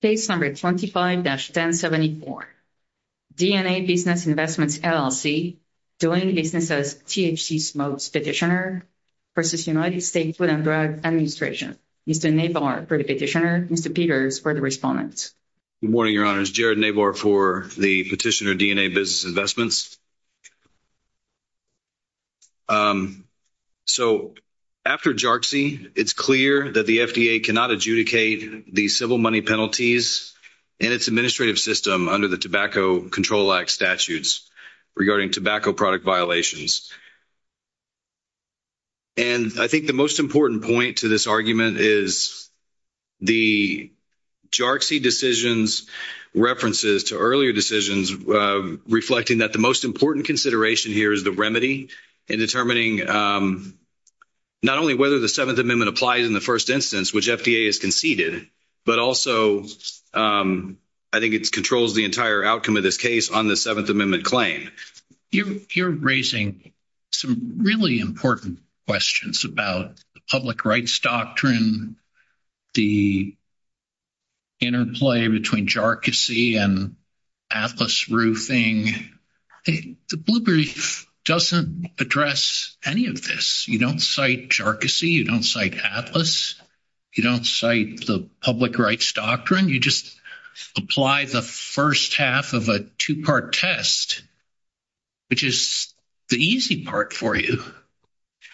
States Number 25-1074, D and A Business Investments LLC, doing business as THC smokes petitioner, versus United States Food and Drug Administration. Mr. Nabar for the petitioner, Mr. Peters for the respondent. Good morning, Your Honors. Jared Nabar for the petitioner, D and A Business Investments. So after JARCSI, it's clear that the FDA cannot adjudicate the civil money penalties in its administrative system under the Tobacco Control Act statutes regarding tobacco product violations. And I think the most important point to this argument is the JARCSI decisions references to earlier decisions reflecting that the most important consideration here is the remedy in determining not only whether the Seventh Amendment applies in the first instance which FDA has conceded, but also I think it controls the entire outcome of this case on the Seventh Amendment claim. You're raising some really important questions about public rights doctrine, the interplay between JARCSI and Atlas Roofing. The Blue Brief doesn't address any of this. You don't cite JARCSI, you don't cite Atlas, you don't cite the public rights doctrine, you just apply the first half of a two-part test, which is the easy part for you.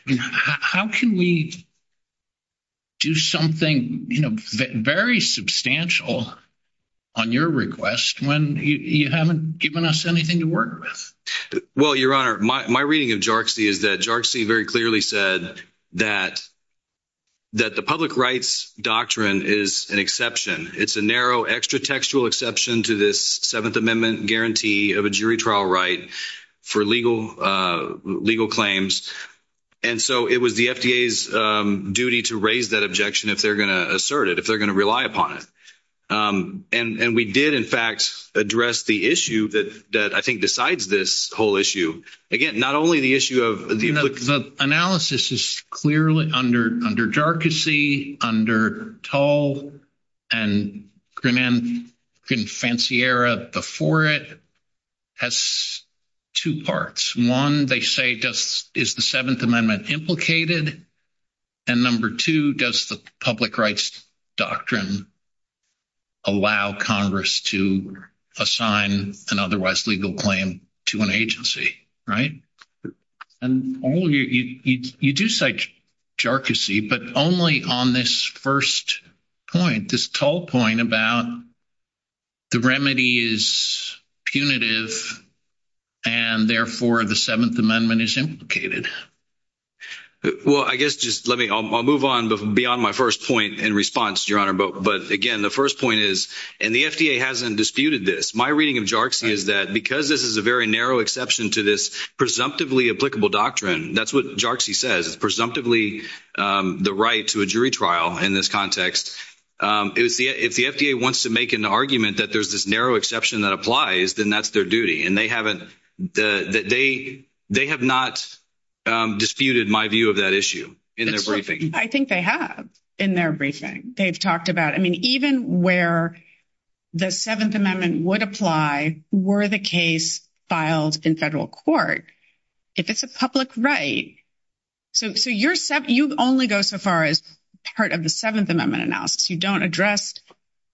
How can we do something, you know, very substantial on your request when you haven't given us anything to work with? Well, Your Honor, my reading of JARCSI is that JARCSI very clearly said that the public rights doctrine is an exception. It's a narrow extra-textual exception to this Seventh Amendment guarantee of a jury trial right for legal claims. And so it was the FDA's duty to raise that objection if they're going to assert it, if they're going to rely upon it. And we did, in fact, address the issue that I think decides this whole issue. Again, not only the issue of... The analysis is clearly under JARCSI, under Toll, and Grimm-Fanciera before it has two parts. One, they say, is the Seventh Amendment implicated? And number two, does the public rights doctrine allow Congress to assign an otherwise legal claim to an agency, right? And you do cite JARCSI, but only on this first point, this Toll point, about the remedy is punitive and therefore the Seventh Amendment is implicated. Well, I guess just let me... I'll move on beyond my first point in response, Your Honor, but again, the first point is, and the FDA hasn't disputed this, my reading of JARCSI is that because this is a very narrow exception to this presumptively applicable doctrine, that's what JARCSI says. It's presumptively the right to a jury trial in this context. If the FDA wants to make an argument that there's this narrow exception that applies, then that's their duty. And they haven't... They have not disputed my view of that issue in their briefing. I think they have in their briefing. They've talked about... I mean, even where the Seventh Amendment would apply were the case filed in federal court, if it's a public right. So you only go so far as part of the Seventh Amendment analysis. You don't address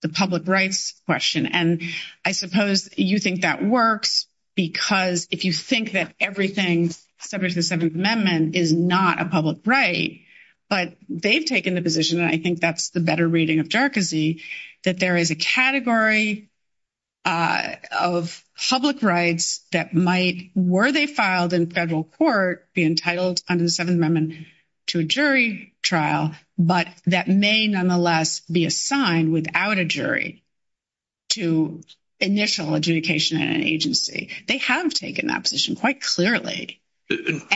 the public rights question. And I suppose you think that works because if you think that everything subject to the Seventh Amendment is not a public right, but they've taken the position, and I think that's the better reading of JARCSI, that there is a category of public rights that might, were they filed in federal court, be entitled under the Seventh Amendment to a jury trial, but that may nonetheless be assigned without a jury to initial adjudication in an agency. They have taken that position quite clearly.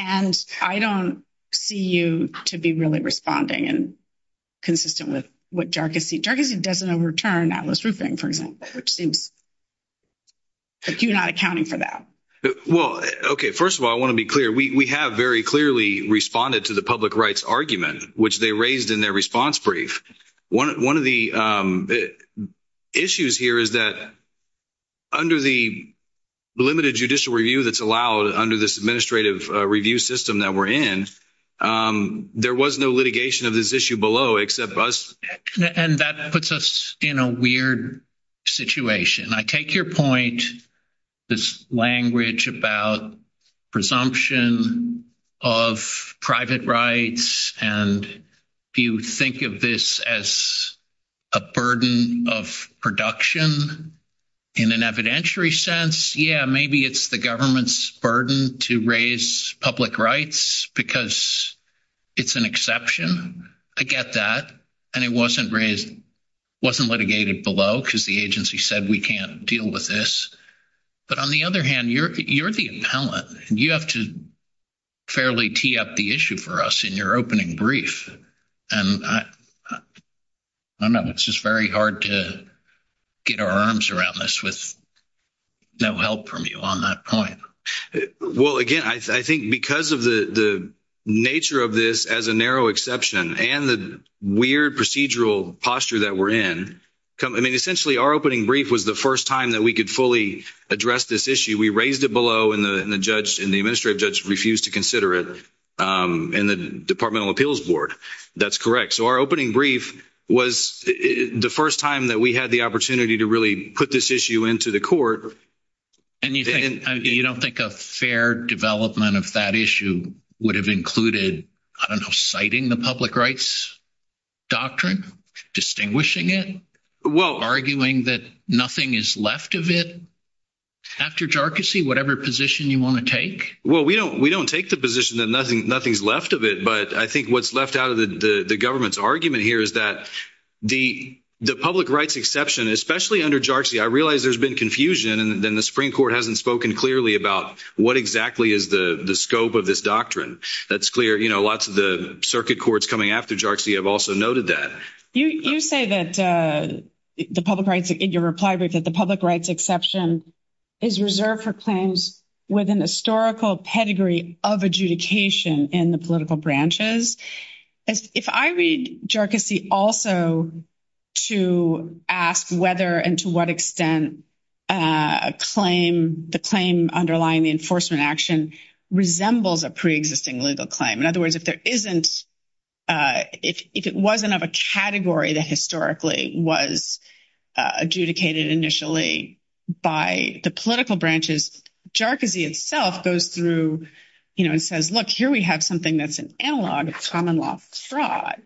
And I don't see you to be really responding and consistent with what JARCSI... JARCSI doesn't overturn Atlas Roofing, for example, which seems... Because you're not accounting for that. Well, okay. First of all, I want to be clear. We have very clearly responded to the public rights argument, which they raised in their response brief. One of the issues here is that under the limited judicial review that's allowed under this administrative review system that we're in, there was no litigation of this issue below except us. And that puts us in a weird situation. I take your point, this language about presumption of private rights, and do you think of this as a burden of production in an evidentiary sense? Yeah, maybe it's the government's burden to raise public rights because it's an exception. I get that. And it wasn't raised... It wasn't litigated below because the agency said we can't deal with this. But on the other hand, you're the appellate, and you have to fairly tee up the issue for us in your opening brief. And I know it's just very to get our arms around this with no help from you on that point. Well, again, I think because of the nature of this as a narrow exception and the weird procedural posture that we're in, I mean, essentially, our opening brief was the first time that we could fully address this issue. We raised it below, and the judge and the administrative judge refused to consider it in the Department of Appeals Board. That's correct. So our first time that we had the opportunity to really put this issue into the court... And you don't think a fair development of that issue would have included, I don't know, citing the public rights doctrine, distinguishing it, arguing that nothing is left of it after jarcossy, whatever position you want to take? Well, we don't take the position that nothing's left of it. But I think what's left out of the government's argument here is that the public rights exception, especially under jarcossy, I realize there's been confusion, and then the Supreme Court hasn't spoken clearly about what exactly is the scope of this doctrine. That's clear. Lots of the circuit courts coming after jarcossy have also noted that. You say that the public rights, in your reply brief, that the public rights exception is reserved for claims within the historical pedigree of adjudication in the political branches. If I read jarcossy also to ask whether and to what extent the claim underlying the enforcement action resembles a pre-existing legal claim. In other words, if it wasn't of a category that historically was adjudicated initially by the political branches, jarcossy itself goes through and says, look, here we have something that's an analog of common law fraud.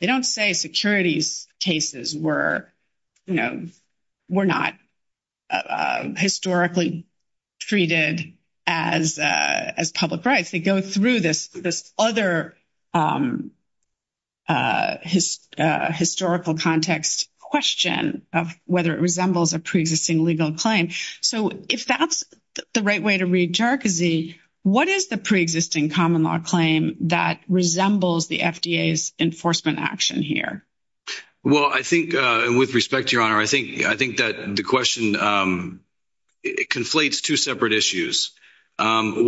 They don't say securities cases were not historically treated as public rights. They go through this other historical context question of whether it resembles a pre-existing legal claim. If that's the right way to read jarcossy, what is the pre-existing common law claim that resembles the FDA's enforcement action here? Well, I think, and with respect to your honor, I think that the question conflates two separate issues. There's an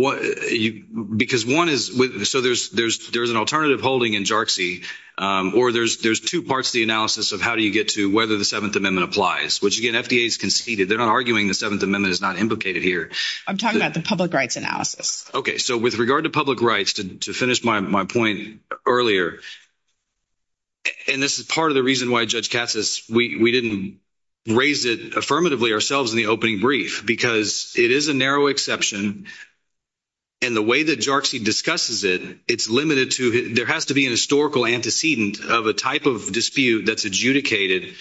alternative holding in jarcossy, or there's two parts of the analysis of how do you get to whether the Seventh Amendment applies, which again, FDA's conceded. They're not arguing the Seventh Amendment is not implicated here. I'm talking about the public rights analysis. Okay. So with regard to public rights, to finish my point earlier, and this is part of the reason why Judge Cassis, we didn't raise it affirmatively ourselves in the opening brief, because it is a narrow exception. And the way that jarcossy discusses it, it's limited to, there has to be historical antecedent of a type of dispute that's adjudicated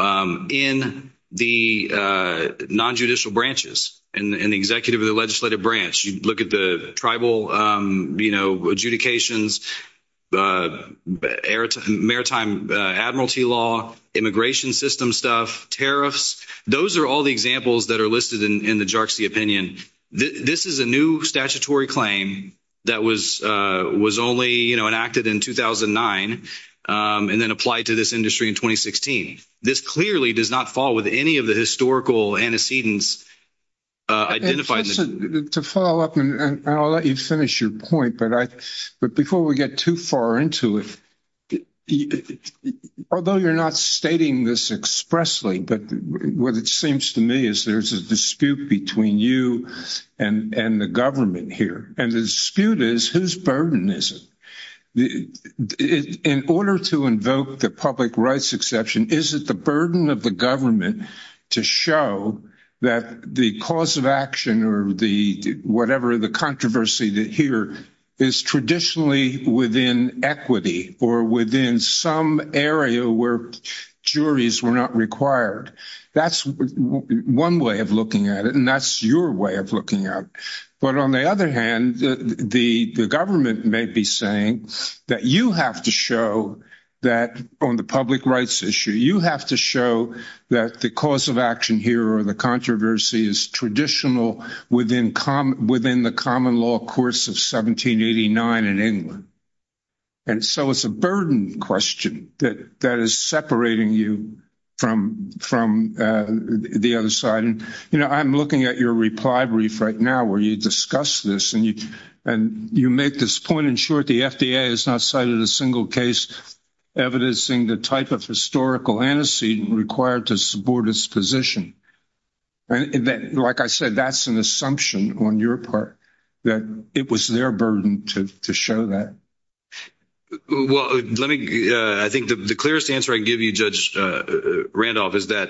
in the non-judicial branches, in the executive and legislative branch. You look at the tribal adjudications, maritime admiralty law, immigration system stuff, tariffs. Those are all the examples that are in the jarcossy opinion. This is a new statutory claim that was only enacted in 2009, and then applied to this industry in 2016. This clearly does not fall with any of the historical antecedents identified in this. To follow up, and I'll let you finish your point, but before we get too far into it, although you're not stating this expressly, but what it seems to me is there's a dispute between you and the government here. And the dispute is, whose burden is it? In order to invoke the public rights exception, is it the burden of the government to show that the cause of action or whatever the controversy here is traditionally within equity or within some area where juries were not required? That's one way of looking at it, and that's your way of looking at it. But on the other hand, the government may be saying that you have to show that on the public rights issue, you have to show that the cause of action here or the controversy is traditional within the common law course of 1789 in England. And so it's a burden question that is separating you from the other side. And, you know, I'm looking at your reply brief right now where you discuss this, and you make this point in short, the FDA has not cited a single case evidencing the type of historical antecedent required to board its position. Like I said, that's an assumption on your part that it was their burden to show that. Well, let me, I think the clearest answer I can give you, Judge Randolph, is that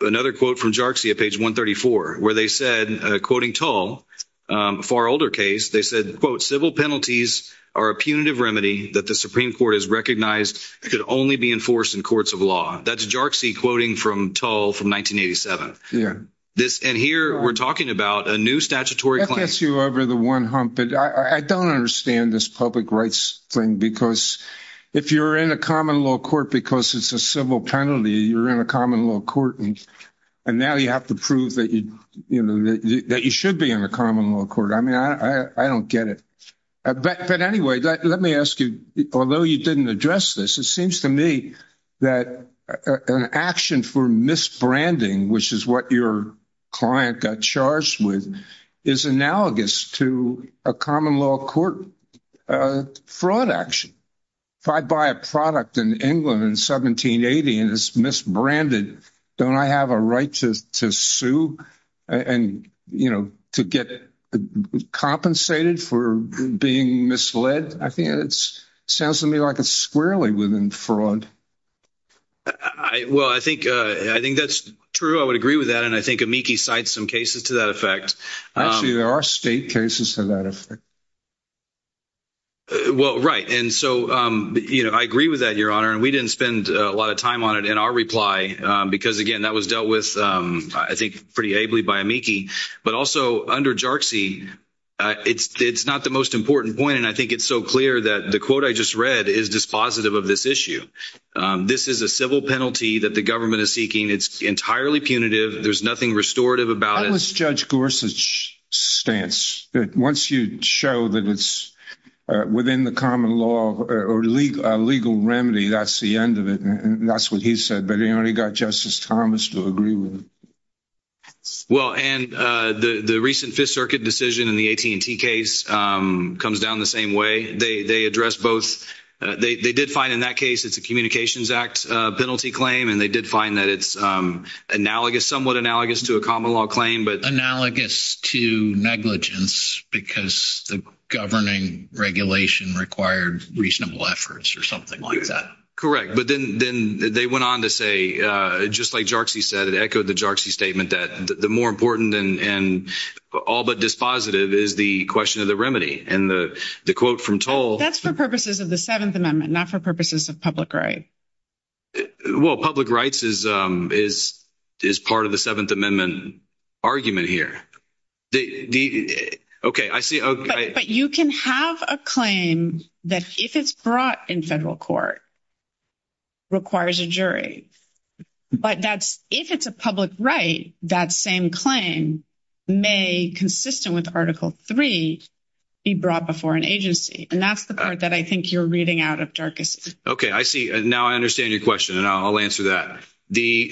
another quote from Jarczy at page 134, where they said, quoting Tull, a far older case, they said, quote, civil penalties are a punitive remedy that the Supreme Court has recognized could only be enforced in courts of law. That's Jarczy quoting from Tull from 1987. And here, we're talking about a new statutory claim. That gets you over the one hump. I don't understand this public rights thing, because if you're in a common law court because it's a civil penalty, you're in a common law court, and now you have to prove that you should be in a common law court. I mean, I don't get it. But anyway, let me ask you, although you didn't address this, it seems to me that an action for misbranding, which is what your client got charged with, is analogous to a common law court fraud action. If I buy a product in England in 1780, and it's misbranded, don't I have a right to sue and to get compensated for being misled? I think it sounds to me like it's squarely within fraud. Well, I think that's true. I would agree with that. And I think Amiki cites some cases to that effect. Actually, there are state cases to that effect. Well, right. And so I agree with that, Your Honor. And we didn't spend a lot of time on it in our reply, because, again, that was dealt with, I think, pretty ably by Amiki. But also, under Jarczy, it's not the most important point, and I think it's so clear that the quote I just read is dispositive of this issue. This is a civil penalty that the government is seeking. It's entirely punitive. There's nothing restorative about it. How is Judge Gorsuch's stance that once you show that it's within the common law or legal remedy, that's the end of it? And that's what he said. But, you know, you've got Justice Thomas to agree with. Well, and the recent Fifth Circuit decision in the AT&T case comes down the same way. They addressed both. They did find in that case it's a Communications Act penalty claim, and they did find that it's analogous, somewhat analogous, to a common law claim. Analogous to negligence, because the governing regulation required reasonable efforts or something like that. Correct. But then they went on to say, just like Jarczy said, it echoed the Jarczy statement that the more important and all but dispositive is the question of the remedy. And the quote from Toll... That's for purposes of the Seventh Amendment, not for purposes of public rights. Well, public rights is part of the Seventh Amendment argument here. Okay, I see. But you can have a claim that if it's brought in federal court, requires a jury. But that's, if it's a public right, that same claim may, consistent with Article III, be brought before an agency. And that's the part that I think you're reading out of Jarczy's... Okay, I see. And now I understand your question, and I'll answer that.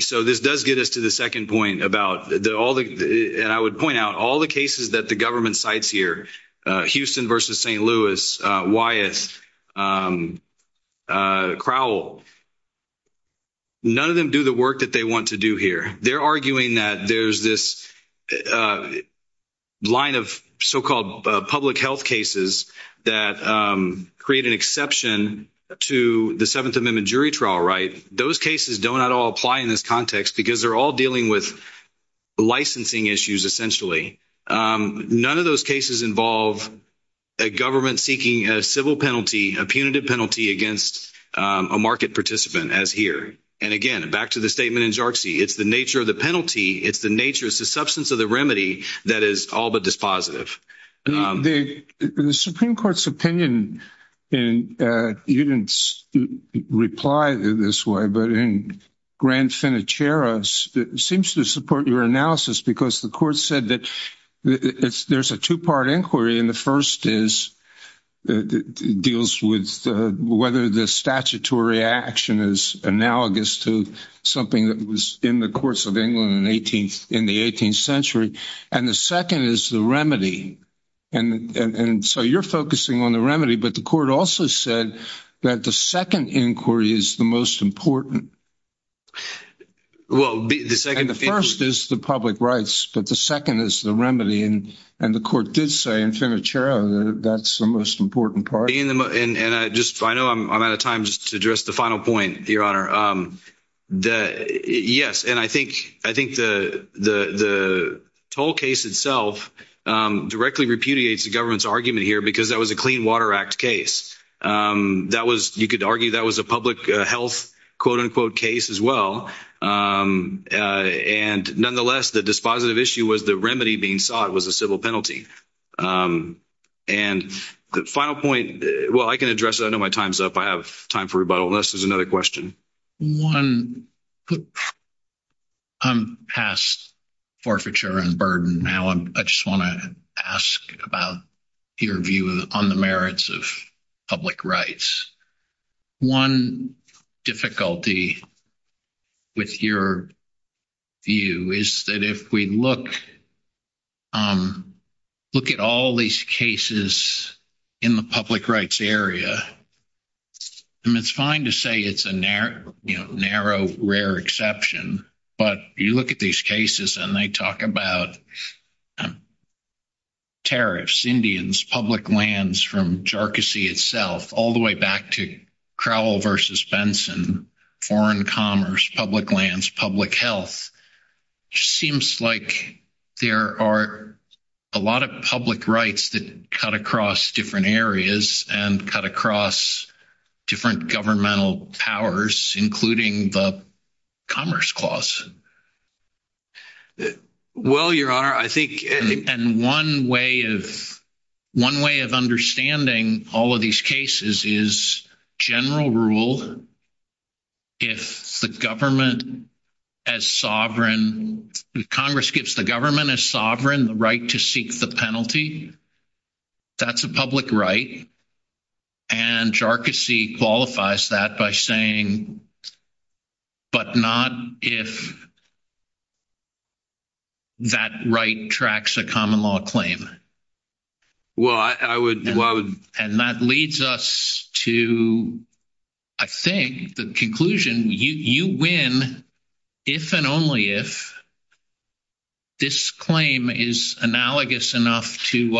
So this does get us to the second point about all the, and I would point out, all the cases that the government cites here, Houston versus St. Louis, Wyeth, Crowell, none of them do the work that they want to do here. They're arguing that there's this line of so-called public health cases that create an exception to the Seventh Amendment jury trial right. Those cases don't at all apply in this context because they're all dealing with licensing issues, essentially. None of those cases involve a government seeking a civil penalty, a punitive penalty against a market participant as here. And again, back to the statement in Jarczy, it's the nature of the penalty, it's the nature, it's the substance of the remedy that is all but dispositive. The Supreme Court's opinion, and you didn't reply to this way, but in Grand Finicera, seems to support your analysis because the court said that there's a two-part inquiry, and the first is, it deals with whether the statutory action is analogous to something that was in the courts of England in the 18th century, and the second is the remedy. And so you're focusing on the remedy, but the court also said that the second inquiry is the most important. Well, the second... And the first is the public rights, but the second is the remedy, and the court did say in Finicera that's the most important part. And I just, I know I'm out of time just to address the final point, Your Honor. Yes, and I think the toll case itself directly repudiates the government's argument here because that was a Clean Water Act case. That was, you could argue that was a public health quote-unquote case as well. And nonetheless, the dispositive issue was the remedy being sought was a civil penalty. And the final point, well, I can address it. I know my time's up. I have time for rebuttal, unless there's another question. I'm past forfeiture and burden now, and I just want to ask about your view on the merits of public rights. One difficulty with your view is that if we look at all these cases in the public rights area, and it's fine to say it's a narrow, rare exception, but you look at these cases and they talk about tariffs, Indians, public lands from Jharkhand itself all the way back to Crowell versus Benson, foreign commerce, public lands, public health. It just seems like there are a lot of public rights that cut across different areas and cut across different governmental powers, including the Commerce Clause. Well, Your Honor, I think... And one way of understanding all of these cases is general rule. If the government as sovereign, if Congress gives the government as sovereign the right to seek the penalty, that's a public right. And Jharkhand qualifies that by saying, but not if that right tracks a common law claim. Well, I would... And that leads us to, I think, the conclusion, you win if and only if this claim is analogous enough to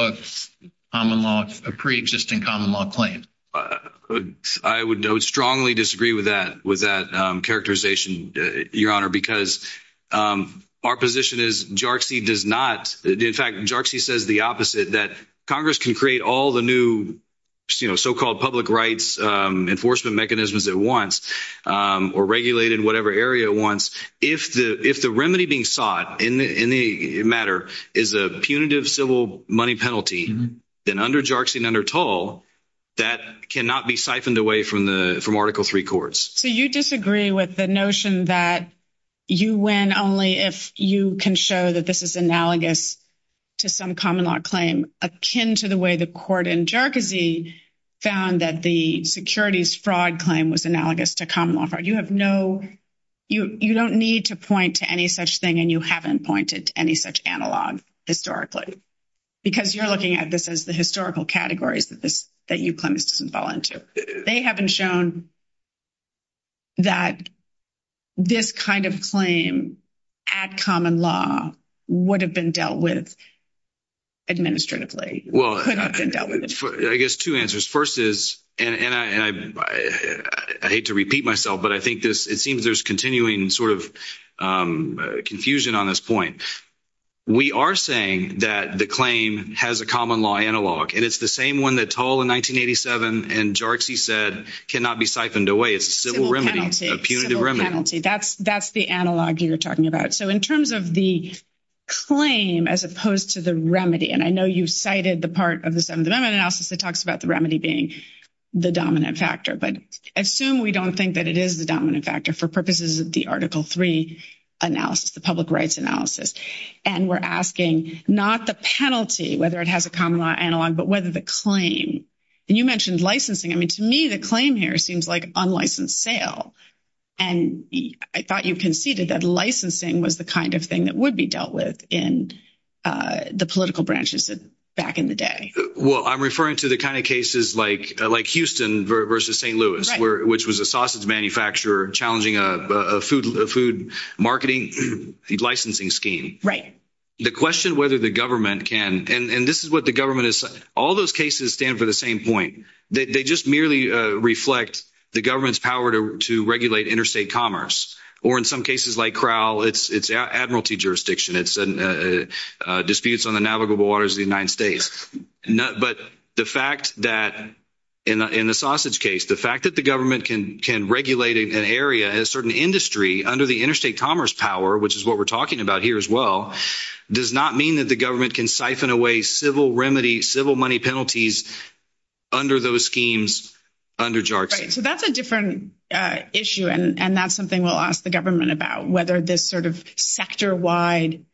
a pre-existing common law claim. I would strongly disagree with that characterization, Your Honor, because our position is Jharkhand does not... In fact, Jharkhand says the opposite, that Congress can create all the new so-called public rights enforcement mechanisms it wants or regulate in whatever area it wants. If the remedy being sought in the matter is a punitive civil money penalty, then under Jharkhand, under toll, that cannot be siphoned away from Article III courts. So you disagree with the notion that you win only if you can show that this is analogous to some common law claim, akin to the way the court in Jharkhand found that the securities fraud claim was analogous to common law fraud. You have no... You don't need to point to any such thing, and you haven't pointed to any such analog historically, because you're looking at this as the historical categories that you claim it doesn't fall into. They haven't shown that this kind of claim at common law would have been dealt with administratively. Well, I guess two answers. First is, and I hate to repeat myself, but I think this... It seems there's continuing sort of confusion on this point. We are saying that the claim has a common law analog, and it's the same one that toll in 1987 and Jharkhand said cannot be siphoned away. It's a civil remedy, a punitive remedy. That's the analog you were talking about. So in terms of the claim as opposed to the remedy, and I know you've cited the part of the Seventh Amendment analysis that talks about the remedy being the dominant factor, but assume we don't think that it is the dominant factor for purposes of the Article III analysis, the public rights analysis, and we're asking not the penalty, whether it has a common law analog, but whether the claim... And you mentioned licensing. I mean, to me, the claim here seems like unlicensed sale, and I thought you conceded that licensing was the kind of thing that would be dealt with in the political branches back in the day. Well, I'm referring to the kind of cases like Houston versus St. Louis, which was a sausage manufacturer challenging a food marketing licensing scheme. The question whether the government can... And this is what the government is... All those cases stand for the same point. They just merely reflect the government's power to regulate interstate commerce, or in some cases like Crowell, it's admiralty jurisdiction. It's disputes on the waters of the United States. But the fact that in the sausage case, the fact that the government can regulate an area, a certain industry under the interstate commerce power, which is what we're talking about here as well, does not mean that the government can siphon away civil remedy, civil money penalties under those schemes under JARTA. So that's a different issue, and that's something we'll ask the government about, whether this sort of sector-wide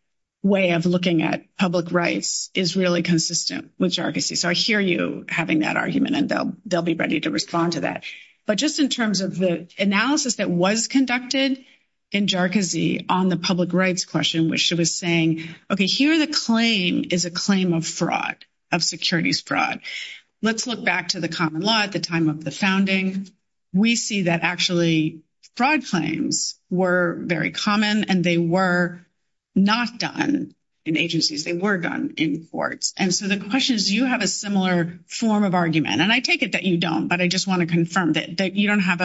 way of looking at public rights is really consistent with JARCAZ. So I hear you having that argument, and they'll be ready to respond to that. But just in terms of the analysis that was conducted in JARCAZ on the public rights question, which she was saying, okay, here the claim is a claim of fraud, of securities fraud. Let's look back to the common law at the time of the founding. We see that actually fraud claims were very common, and they were not done in agencies. They were done in courts. And so the question is, do you have a similar form of argument? And I take it that you don't, but I just want to confirm that you don't have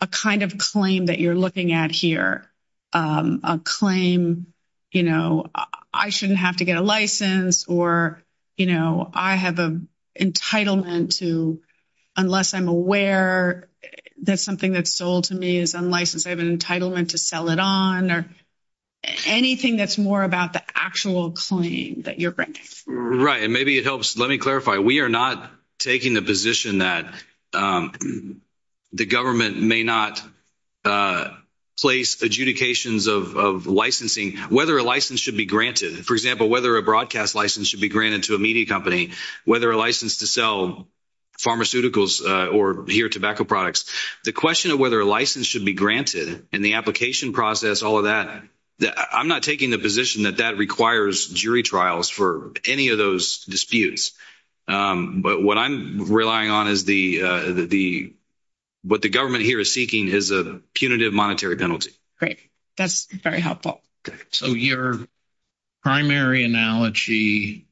a kind of claim that you're looking at here, a claim, you know, I shouldn't have to get a license, or, you know, I have an entitlement to, unless I'm aware that something that's sold to me is unlicensed, I have an entitlement to sell it on, or anything that's more about the actual claim that you're bringing. Right, and maybe it helps, let me clarify, we are not taking the position that the government may not place adjudications of licensing, whether a license should be granted. For example, whether a broadcast license should be granted to a media company, whether a license to sell pharmaceuticals or, here, tobacco products. The question of whether a license should be granted, and the application process, all of that, I'm not taking the position that that requires jury trials for any of those disputes. But what I'm relying on is the, what the government here is seeking is a punitive monetary penalty. Great, that's very helpful. So your primary analogy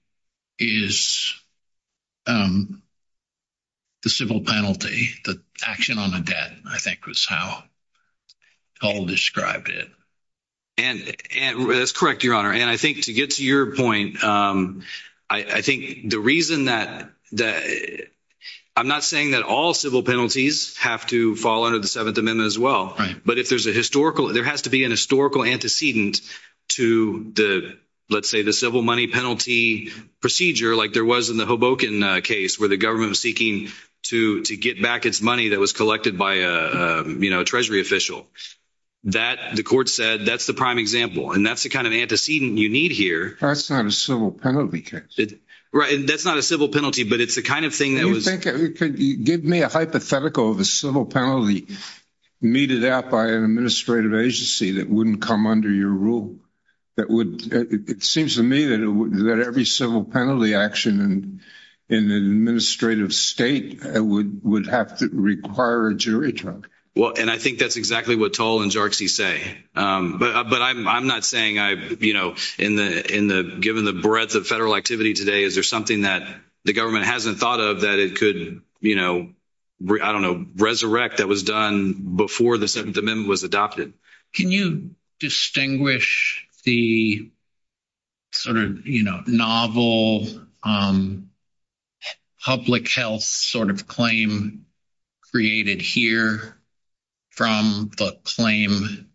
is the civil penalty, the action on the debt, I think was how Paul described it. And that's correct, Your Honor, and I think to get to your point, I think the reason that, I'm not saying that all civil penalties have to fall under the Seventh Amendment as well, but if there's a historical, there has to be an historical antecedent to the, let's say, the civil money penalty procedure, like there was in the Hoboken case, where the government was seeking to get back its money that was collected by a, you know, treasury official. That, the court said, that's the prime example, and that's the kind of antecedent you need here. That's not a civil penalty case. Right, and that's not a civil penalty, but it's the kind of thing that was... Could you give me a hypothetical of a civil penalty meted out by an administrative agency that wouldn't come under your rule, that would, it seems to me that every civil penalty action in an administrative state would have to require a jury trial. Well, and I think that's exactly what Toll and Jarxy say, but I'm not saying I've, you know, in the, given the breadth of federal activity today, is there something that the government hasn't thought of that it could, you know, I don't know, resurrect that was done before the Second Amendment was adopted? Can you distinguish the sort of, you know, novel public health sort of claim created here from the claim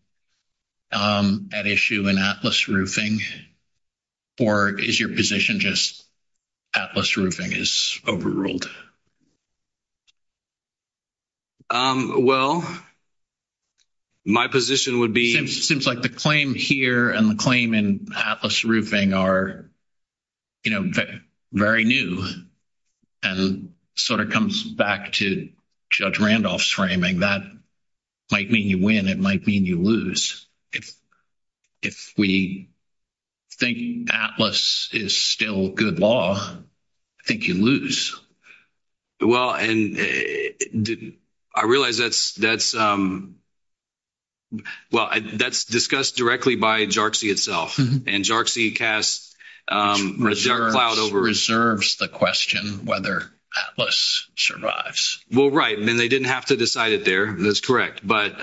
at issue in Atlas Roofing, or is your position just Atlas Roofing is overruled? Well, my position would be... It seems like the claim here and the claim in Atlas Roofing are, you know, very new, and sort of comes back to Judge Randolph's framing. That might mean you win. It might mean you lose. If we think Atlas is still good law, I think you lose. Well, and I realize that's, well, that's discussed directly by Jarxy itself, and Jarxy casts a cloud over... Reserves the question whether Atlas survives. Well, right, and they didn't have to decide it there, and that's correct, but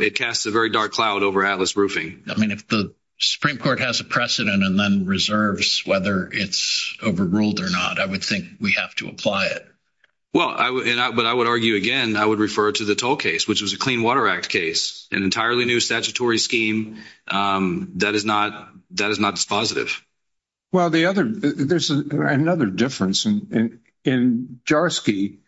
it casts a very dark cloud over Atlas Roofing. I mean, if the Supreme Court has a precedent and then reserves whether it's overruled or not, I would think we have to apply it. Well, but I would argue, again, I would refer to the toll case, which was a Clean Water Act case, an entirely new statutory scheme. That is not dispositive. Well, the other, there's another difference, and in Jarxy,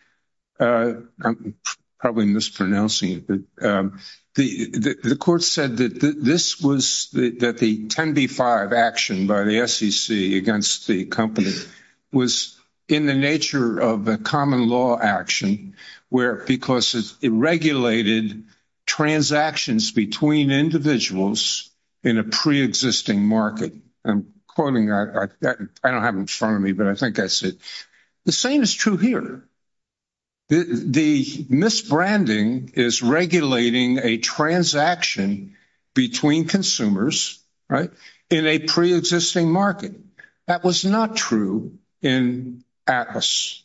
I'm probably mispronouncing it, but the court said that this was, that the 10b-5 action by the SEC against the company was in the nature of a common law action where, because it regulated transactions between individuals in a pre-existing market, I'm quoting, I don't have it in front of me, but I think that's it. The same is true here. The misbranding is regulating a transaction between consumers, right, in a pre-existing market. That was not true in Atlas.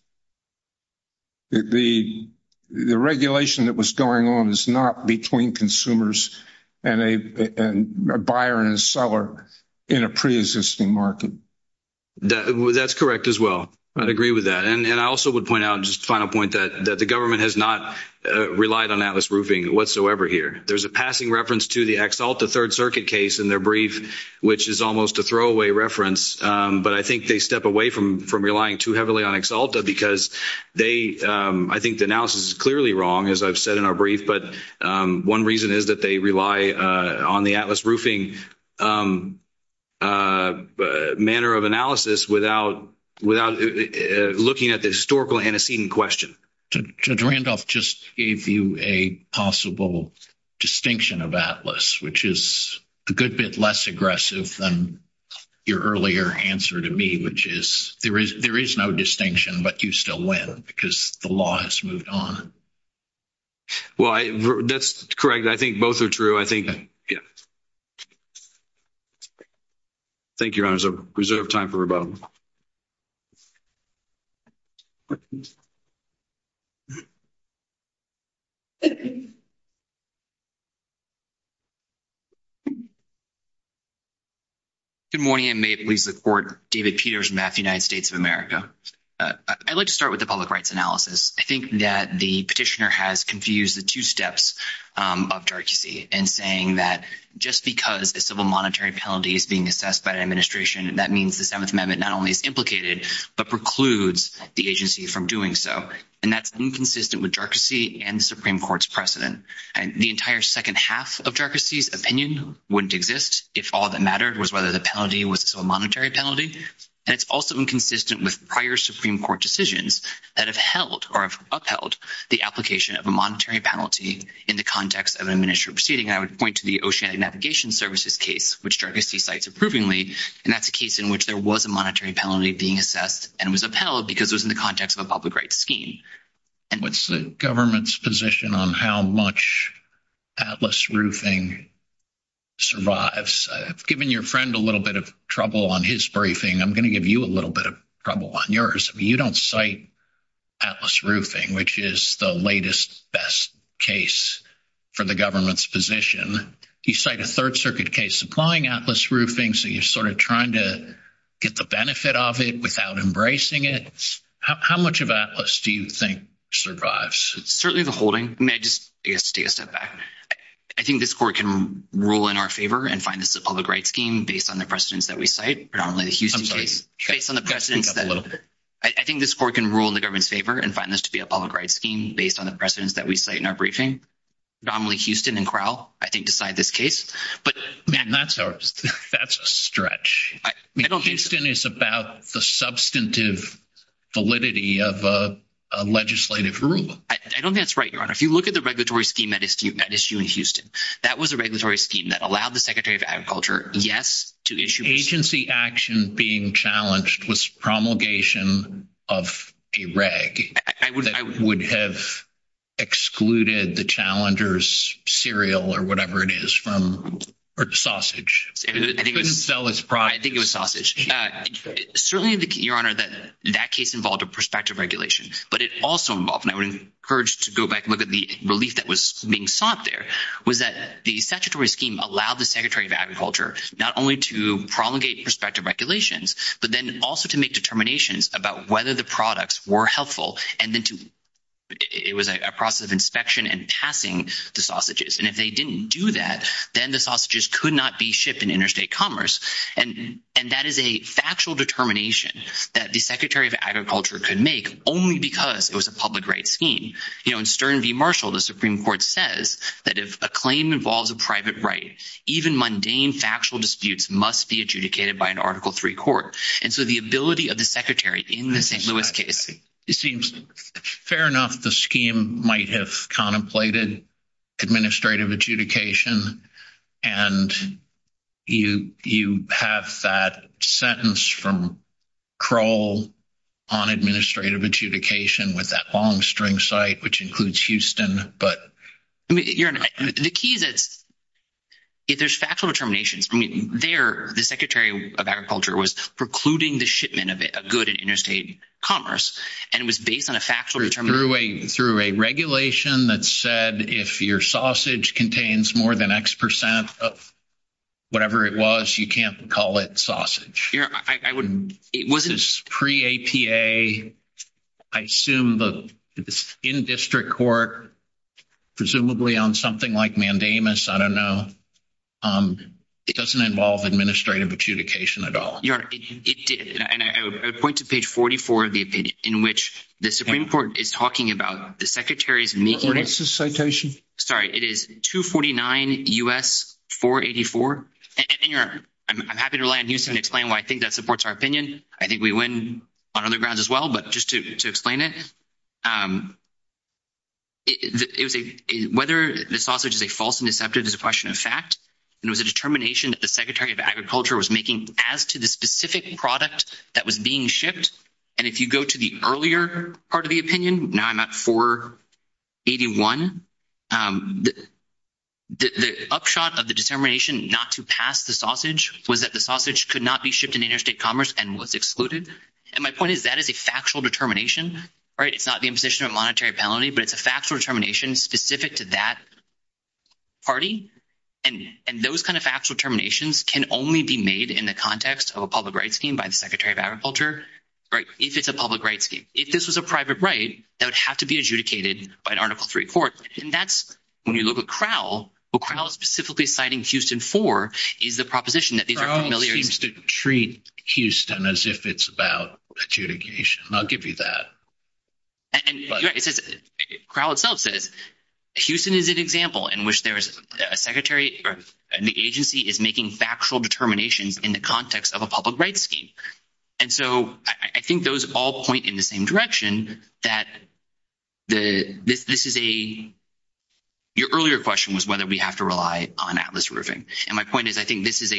The regulation that was going on is not between consumers and a buyer and seller in a pre-existing market. That's correct as well. I agree with that. And I also would point out, just a final point, that the government has not relied on Atlas Roofing whatsoever here. There's a passing reference to the Ex-Alta Third Circuit case in their brief, which is almost a throwaway reference, but I think they step away from relying too heavily on Ex-Alta because they, I think the analysis is clearly wrong, as I've said in our brief, but one reason is that they rely on the Atlas Roofing manner of analysis without looking at the historical antecedent question. Judge Randolph just gave you a possible distinction of Atlas, which is a good bit less aggressive than your earlier answer to me, which is there is no distinction, but you still win because the law has moved on. Well, that's correct. I think both are true. I think, yes. Thank you, Your Honors. I reserve time for rebuttal. Good morning, and may it please the Court. David Peters, MAF, United States of America. I'd like to start with the public rights analysis. I think that the Petitioner has confused the two steps of directocy in saying that just because a civil monetary penalty is being assessed by the administration, that means the Seventh Amendment not only is implicated, but precludes the agency from doing so, and that's inconsistent with directocy and the Supreme Court's precedent. The entire second half of directocy's opinion wouldn't exist if all that mattered was whether the penalty was a monetary penalty, and it's also inconsistent with prior Supreme Court decisions that have held or upheld the application of a monetary penalty in the context of an administrative proceeding. I would point to the Oceanic Navigation Services case, which directocy cites approvingly, and that's a case in which there was a monetary penalty being assessed and was upheld because it was in the context of a public rights scheme. What's the government's position on how much Atlas roofing survives? I've given your friend a little bit of trouble on his briefing. I'm going to give you a little bit of trouble on yours. You don't cite Atlas roofing, which is the latest, best case for the government's position. You cite a Third Circuit case applying Atlas roofing, so you're sort of trying to get the benefit of it without embracing it. How much of Atlas do you think survives? Certainly the holding. May I just state a setback? I think this Court can rule in our favor and find the public rights scheme based on the precedents that we cite. I think this Court can rule in the government's favor and find this to be a public rights scheme based on the precedents that we cite in our briefing. Dominantly Houston and Crowell, I think, decide this case. That's a stretch. Houston is about the substantive validity of a legislative group. I don't think that's right, Your Honor. If you look at the regulatory scheme that issued in that case, that was a regulatory scheme that allowed the Secretary of Agriculture, yes, to issue it. Agency action being challenged was promulgation of a reg that would have excluded the challenger's cereal or whatever it is from, or sausage. I think it was sausage. Certainly, Your Honor, that case involved a prospective regulation, but it also involved, and I would encourage to go back and look at the relief that was being sought there, was that the statutory scheme allowed the Secretary of Agriculture not only to promulgate prospective regulations, but then also to make determinations about whether the products were helpful. It was a process of inspection and passing the sausages. If they didn't do that, then the sausages could not be shipped in interstate commerce. That is a factual determination that the Secretary of Agriculture could make only because it was a public rights scheme. In Stern v. Marshall, the Supreme Court says that if a claim involves a private right, even mundane factual disputes must be adjudicated by an Article III court. And so the ability of the Secretary in the St. Louis case... It seems fair enough the scheme might have contemplated administrative adjudication, and you have that sentence from Kroll on administrative adjudication with that long string cite, which includes Houston, but... Your Honor, the key is that there's factual determinations. I mean, there, the Secretary of Agriculture was precluding the shipment of good in interstate commerce, and it was based on a factual determination... Through a regulation that said if your sausage contains more than X percent of whatever it was, you can't call it sausage. It was pre-APA. I assume the in-district court, presumably on something like mandamus, I don't know, doesn't involve administrative adjudication at all. And I would point to page 44 of the opinion in which the Supreme Court is talking about the Secretary's making... What's the citation? Sorry. It is 249 U.S. 484. I'm happy to rely on Houston to explain why I think that supports our opinion. I think we win on other grounds as well, but just to explain it, whether the sausage is a false and deceptive is a question of fact. It was a determination that the Secretary of Agriculture was making as to the specific product that was being shipped. And if you go to the earlier part of the opinion, not 481, the upshot of the determination not to pass the sausage was that the sausage could not be shipped in interstate commerce and was excluded. And my point is that is a factual determination, right? It's not the imposition of monetary penalty, but it's a factual determination specific to that party. And those kinds of factual determinations can only be made in the context of a public rights scheme by the Secretary of Agriculture, right, if it's a public rights scheme. If this was a private right, that would have to be adjudicated by an Article 3 court. And that's when you look at Crowell, what Crowell is specifically citing Houston for is the proposition that these are familiar... Crowell seems to treat Houston as if it's about adjudication. I'll give you that. And Crowell itself says Houston is an example in which there is a Secretary and the agency is making factual determinations in the context of a public rights scheme. And so I think those all point in the same direction that this is a... Your earlier question was whether we have to rely on Atlas Roofing. And my point is I think this is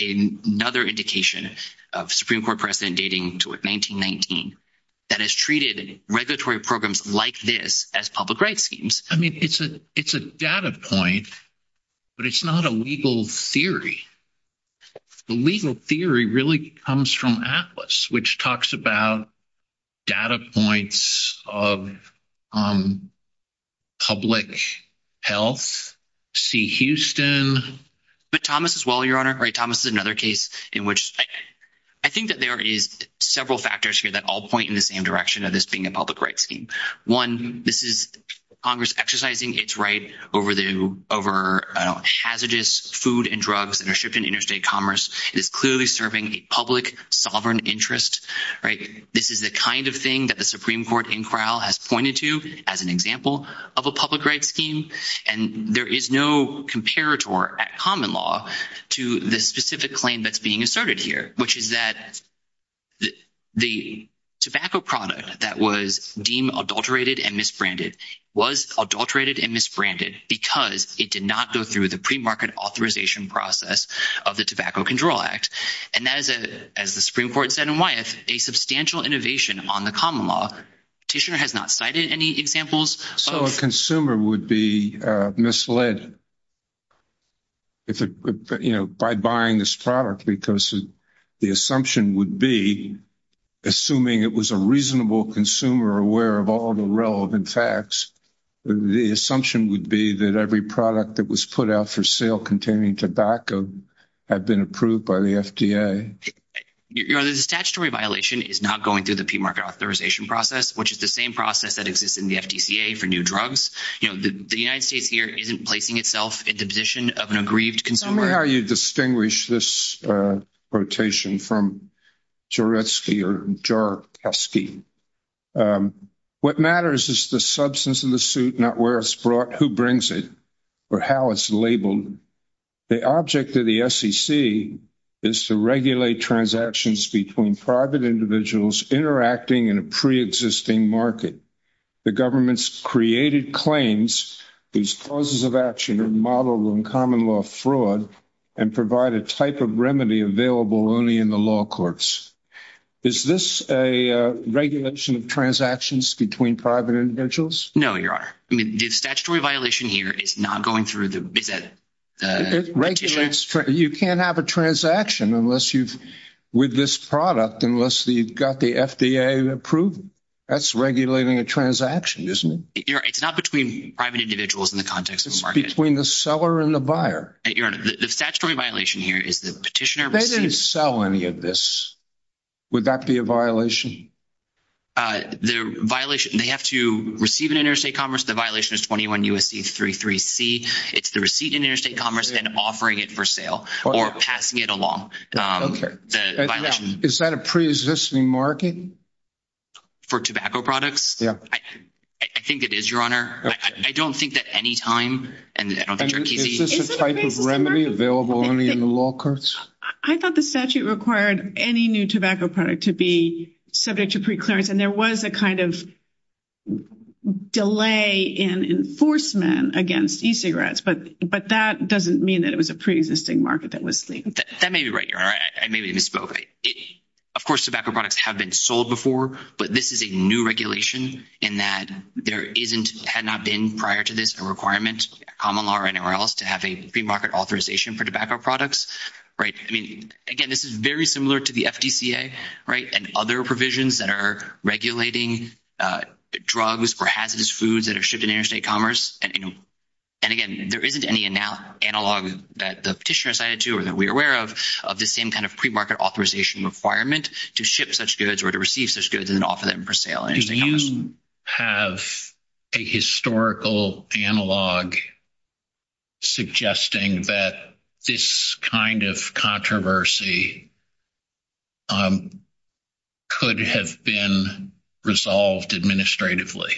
another indication of Supreme Court precedent dating to 1919 that has treated regulatory programs like this as public rights schemes. I mean, it's a data point, but it's not a legal theory. The legal theory really comes from Atlas, which talks about data points of public health, see Houston... But Thomas as well, Your Honor. Thomas is another case in which... I think that there is several factors here that all point in the same direction of this being a public rights scheme. One, this is Congress exercising its right over hazardous food and drugs that are shipped in interstate commerce. It is clearly serving a public sovereign interest. This is the kind of thing that the Supreme Court in Crowell has pointed to as an example of a public rights scheme. And there is no comparator at common law to the specific claim that's being asserted here, which is that the tobacco product that was deemed adulterated and misbranded was adulterated and misbranded because it did not go through the premarket authorization process of the Tobacco Control Act. And that is, as the Supreme Court said in Wyeth, a substantial innovation on the misled by buying this product because the assumption would be, assuming it was a reasonable consumer aware of all the relevant facts, the assumption would be that every product that was put out for sale containing tobacco had been approved by the FDA. Your Honor, the statutory violation is not going through the premarket authorization process, which is the same process that exists in the FDCA for new drugs. You know, the United States here isn't placing itself in the position of an aggrieved consumer. Tell me how you distinguish this quotation from Jouretzky or Jouretzky. What matters is the substance of the suit, not where it's brought, who brings it, or how it's labeled. The object of the SEC is to regulate transactions between private individuals interacting in a preexisting market. The government's created claims, these causes of action are modeled on common law fraud and provide a type of remedy available only in the law courts. Is this a regulation of transactions between private individuals? No, Your Honor. The statutory violation here is not going through the... You can't have a transaction with this product unless you've got the FDA approved. That's regulating a transaction, isn't it? Your Honor, it's not between private individuals in the context of the market. It's between the seller and the buyer. Your Honor, the statutory violation here is the petitioner... They didn't sell any of this. Would that be a violation? They have to receive it in interstate commerce. The violation is 21 U.S.C. 33C. It's the receipt in interstate commerce and offering it for sale or passing it along. Is that a preexisting market? For tobacco products? Yeah. I think it is, Your Honor. I don't think that any time... Is this a type of remedy available only in the law courts? I thought the statute required any new tobacco product to be subject to preclearance, and there was a kind of delay in enforcement against e-cigarettes, but that doesn't mean that it was a preexisting market that was claimed. That may be right, Your Honor. I may be misspoke. Of course, tobacco products have been sold before, but this is a new regulation in that there had not been prior to this a requirement, common law or anywhere else, to have a free market authorization for tobacco products. Right. I mean, again, this is very similar to the FDCA, right, and other provisions that are regulating drugs or hazardous foods that are shipped in interstate commerce. And again, there isn't any analog that the petitioner cited to or that we're aware of, of the same kind of pre-market authorization requirement to ship such goods or to receive such goods and offer them for sale. Do you have a historical analog suggesting that this kind of controversy could have been resolved administratively?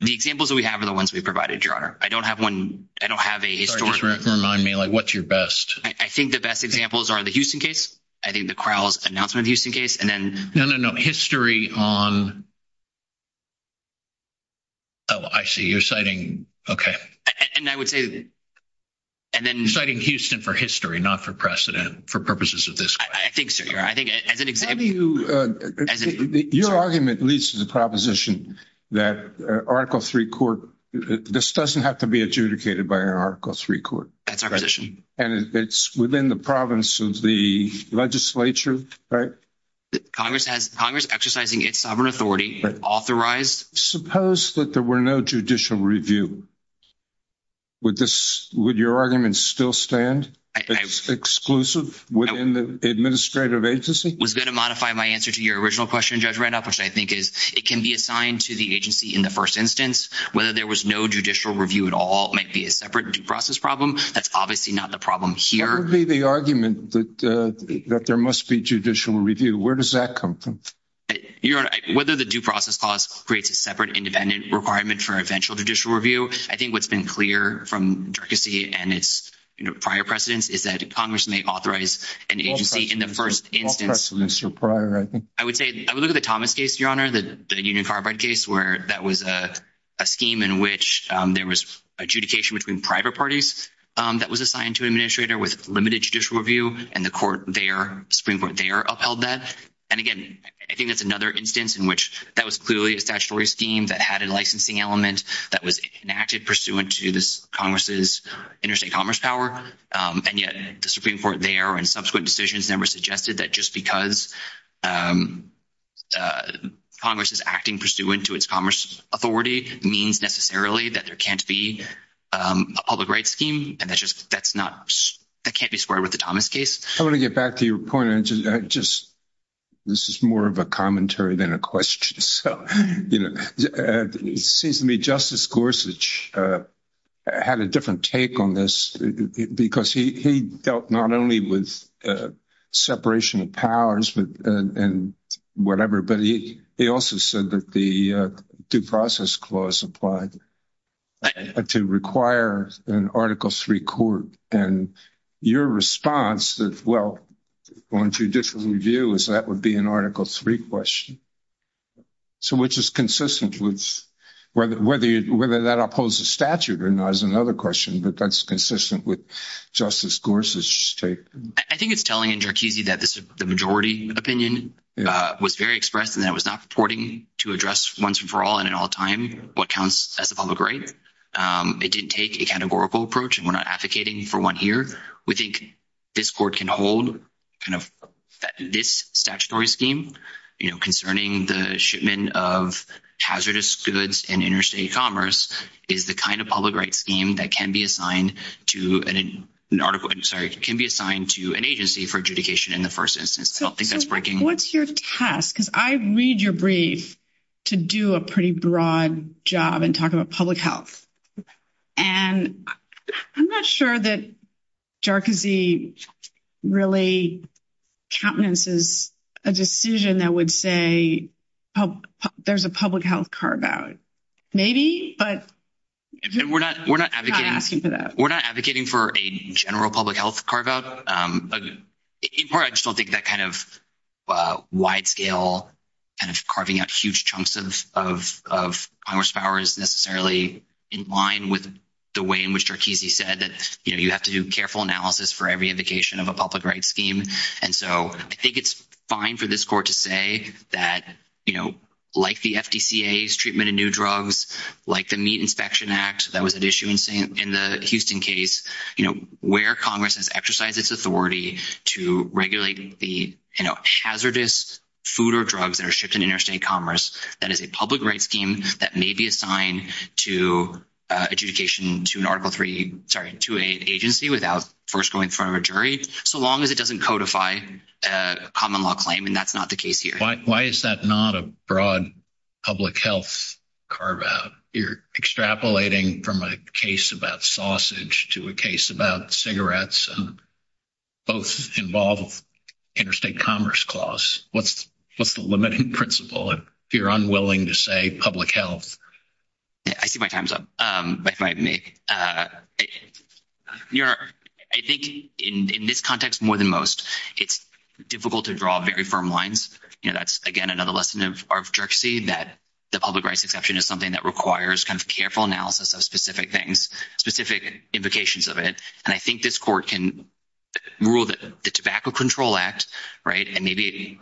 The examples that we have are the ones we provided, Your Honor. I don't have one, I don't have a historical analog. Sorry, just remind me, like, what's your best? I think the best examples are the Houston case, I think the Crowell's announcement of the Houston case, and then... No, no, no. History on... Oh, I see. You're citing... Okay. And I would say that... And then... You're citing Houston for history, not for precedent, for purposes of this case. I think so, Your Honor. I think as an example... I mean, your argument leads to the proposition that Article III court, this doesn't have to be adjudicated by an Article III court. That's our position. And it's within the province of the legislature, right? Congress has... Congress exercising its sovereign authority, authorized... Suppose that there were no judicial review. Would your argument still stand as exclusive within the administrative agency? Was that a modified my answer to your original question, Judge Randolph, which I think is it can be assigned to the agency in the first instance. Whether there was no judicial review at all might be a separate due process problem. That's obviously not the problem here. Part of the argument that there must be judicial review, where does that come from? Your Honor, whether the due process clause creates a separate independent requirement for eventual judicial review, I think what's been clear from Dirkusy and its prior precedents is that Congress may authorize an agency in the first instance... All precedents are prior, I think. I would say... I would look at the Thomas case, Your Honor, the Union Carbide case, where that was a scheme in which there was adjudication between private parties that was assigned to an administrator with limited judicial review, and the Supreme Court there upheld that. And again, I think that's another instance in which that was clearly a statutory scheme that had a licensing element that was enacted pursuant to Congress's interstate commerce power, and yet the Supreme Court there and subsequent decisions there were suggested that just because Congress is acting pursuant to its commerce authority means necessarily that there can't be a public rights scheme, and that can't be square with the Thomas case. I want to get back to your point. This is more of a commentary than a question. It seems to me Justice Gorsuch had a different take on this because he dealt not only with separation of powers and whatever, but he also said that the due process clause applied and to require an Article III court. And your response is, well, going to a different view is that would be an Article III question, so which is consistent with whether that upholds the statute or not is another question, but that's consistent with Justice Gorsuch's take. I think it's telling in Cherkesey that the majority opinion was very expressed and that was not supporting to address once and for all and at all time what counts as a public right. It didn't take a categorical approach, and we're not advocating for one here. We think this court can hold kind of this statutory scheme, you know, concerning the shipment of hazardous goods in interstate commerce is the kind of public rights scheme that can be assigned to an agency for adjudication in the first instance. I don't think that's breaking. What's your task? Because I read your brief to do a pretty broad job and talk about public health, and I'm not sure that Cherkesey really countenances a decision that would say there's a public health carve-out. Maybe, but we're not asking for that. We're not advocating for a general public health carve-out. I just don't think that kind of wide-scale kind of carving out huge chunks of commerce power is necessarily in line with the way in which Cherkesey said that, you know, you have to do careful analysis for every indication of a public rights scheme, and so I think it's fine for this court to say that, you know, like the FDCA's treatment of new drugs, like the Meat Inspection Act that was in the Houston case, you know, where Congress has exercised its authority to regulate the, you know, hazardous food or drugs that are shipped in interstate commerce, that is a public rights scheme that may be assigned to adjudication to an Article 3, sorry, to an agency without first going through a jury, so long as it doesn't codify a common law claim, and that's not the case here. Why is that not a broad public health carve-out? You're extrapolating from a case about sausage to a case about cigarettes, and both involve interstate commerce clause. What's the limiting principle if you're unwilling to say public health? Yeah, I see my time's up. I think in this context more than most it's difficult to draw very firm lines, and that's, again, another lesson of arbitrariness that the public rights exception is something that requires kind of careful analysis of specific things, specific implications of it, and I think this court can rule that the Tobacco Control Act, right, and maybe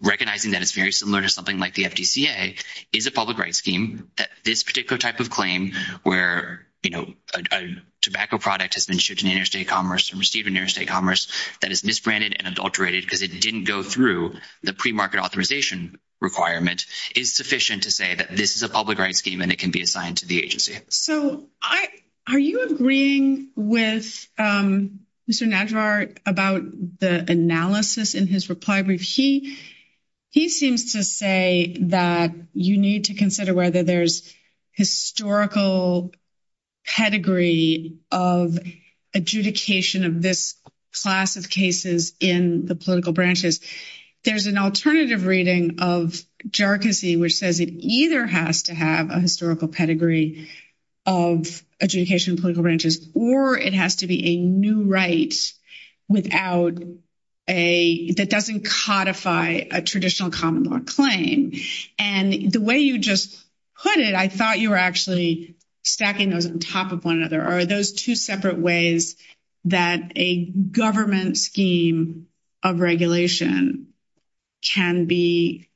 recognizing that it's very similar to something like the FDCA, is a public rights scheme. This particular type of claim where, you know, a tobacco product has been shipped in interstate commerce and received in interstate commerce that is misbranded and requirement is sufficient to say that this is a public rights scheme and it can be assigned to the agency. So are you agreeing with Mr. Nazbar about the analysis in his reply brief? He seems to say that you need to consider whether there's historical pedigree of adjudication of class of cases in the political branches. There's an alternative reading of jarczy which says it either has to have a historical pedigree of adjudication of political branches or it has to be a new right that doesn't codify a traditional common law claim, and the way you just put it, I thought you were actually stacking those on top of one another. Are those two separate ways that a government scheme of regulation can be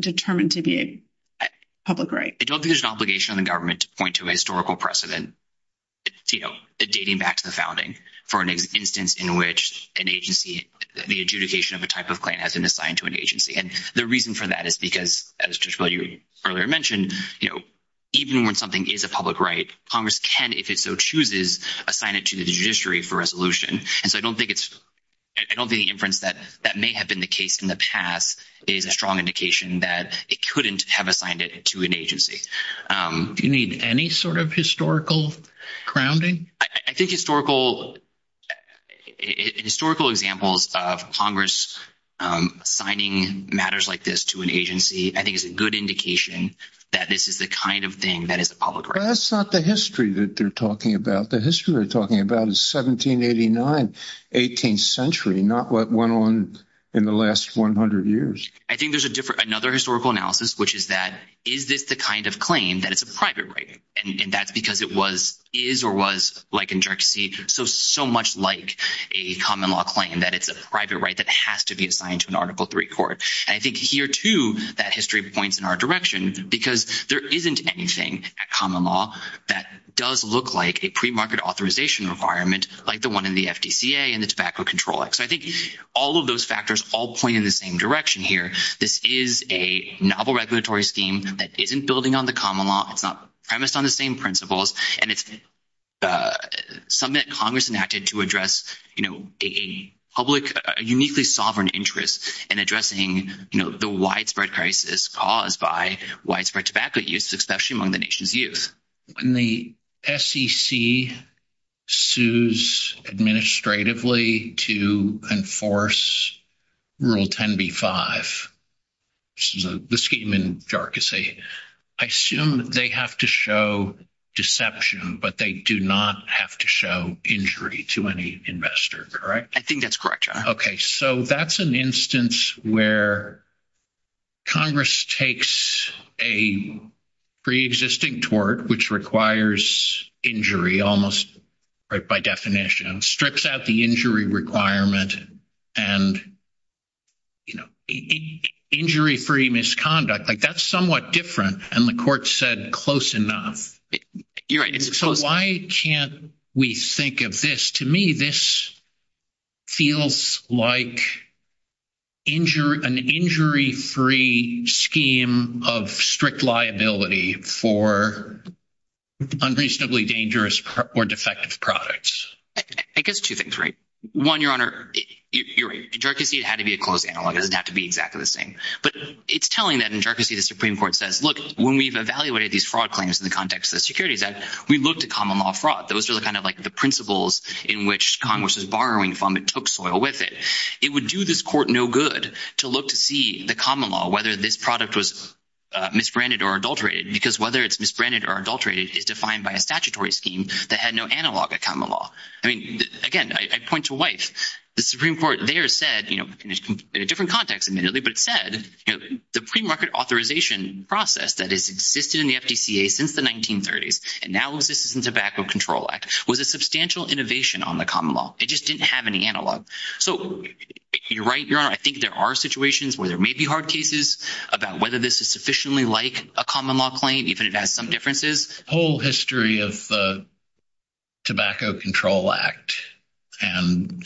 determined to be a public right? I don't think there's an obligation on the government to point to a historical precedent, you know, dating back to the founding for an instance in which an agency, the adjudication of a type of claim has been assigned to an agency, and the reason for that is because, as you earlier mentioned, you know, even when something is a chooses, assign it to the judiciary for resolution, and so I don't think it's, I don't think the inference that that may have been the case in the past is a strong indication that it couldn't have assigned it to an agency. Do you mean any sort of historical grounding? I think historical examples of Congress signing matters like this to an agency, I think it's a good indication that this is the kind of thing that is a public right. That's not the history that they're talking about. The history they're talking about is 1789, 18th century, not what went on in the last 100 years. I think there's a different, another historical analysis, which is that, is it the kind of claim that it's a private right? And that's because it was, is or was, like in jurisdiction, so much like a common law claim that it's a private right that has to be assigned to an Article III court. I think here, too, that history points in our direction, because there isn't anything at common law that does look like a pre-market authorization requirement like the one in the FDCA and the Tobacco Control Act. So I think all of those factors all point in the same direction here. This is a novel regulatory scheme that isn't building on the common law. It's not premised on the same principles. And it's something that Congress enacted to address, you know, a public, uniquely sovereign interest in addressing, you know, the widespread crisis caused by widespread tobacco use, especially among the nation's youth. When the SEC sues administratively to enforce Rule 10b-5, which is the scheme in jarcossi, I assume they have to show deception, but they do not have to show injury to any investor, correct? I think that's correct, John. Okay. So that's an instance where Congress takes a pre-existing tort, which requires injury almost by definition, strips out the injury requirement, and, you know, injury-free misconduct. Like, that's somewhat different. And the court said close enough. You're right. So why can't we think of this? To me, this feels like an injury-free scheme of strict liability for unreasonably dangerous or defective products. I guess two things, right? One, Your Honor, you're right. In jarcossi, it had to be a close analog. It doesn't have to be exactly the same. But it's telling that in jarcossi, the Supreme Court says, look, when we've evaluated these fraud claims in the context of the security debt, we looked at common law fraud. Those are kind of like the principles in which Congress is borrowing from. It took soil with it. It would do this court no good to look to see the common law, whether this product was misbranded or adulterated, because whether it's misbranded or adulterated is defined by a statutory scheme that had no analog of common law. I mean, again, I point to White. The Supreme Court there said, you know, in a different context, but it said, you know, the premarket authorization process that has existed in the FDCA since the 1930s and now exists in the Tobacco Control Act was a substantial innovation on the common law. It just didn't have any analog. So you're right, Your Honor. I think there are situations where there may be hard cases about whether this is sufficiently like a common law claim, even if it has some differences. The whole history of the Tobacco Control Act and,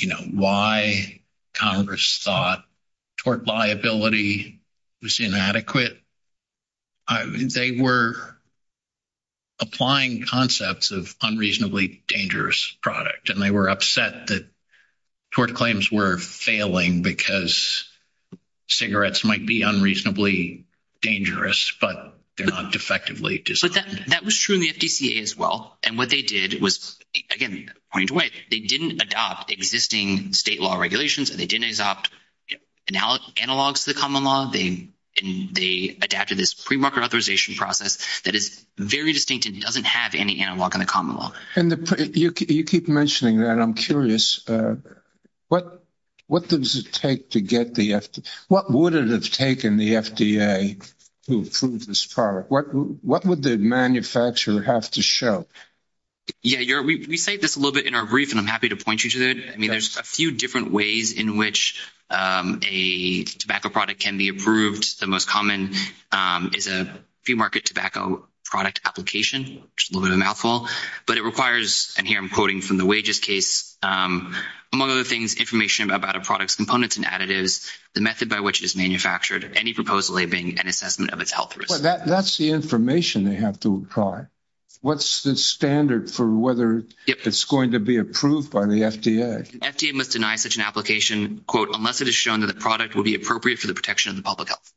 you know, why Congress thought tort liability was inadequate. I mean, they were applying concepts of unreasonably dangerous product, and they were upset that tort claims were failing because cigarettes might be unreasonably dangerous, but they're not They didn't adopt existing state law regulations, and they didn't adopt analogs to the common law. They adapted this premarket authorization process that is very distinct and doesn't have any analog on the common law. And you keep mentioning that. I'm curious. What does it take to get the FDA? What would it have taken the FDA to approve this product? What would the manufacturer have to show? Yeah, Your Honor, we cite this a little bit in our brief, and I'm happy to point you to it. I mean, there's a few different ways in which a tobacco product can be approved. The most common is a few-market tobacco product application, which is a little bit of a mouthful. But it requires, and here I'm quoting from the wages case, among other things, information about a product's components and additives, the method by which it is manufactured, any proposed labing, and the assessment of its health risk. That's the information they have to apply. What's the standard for whether it's going to be approved by the FDA? The FDA must deny such an application, quote, unless it is shown that the product will be appropriate for the protection of the public health.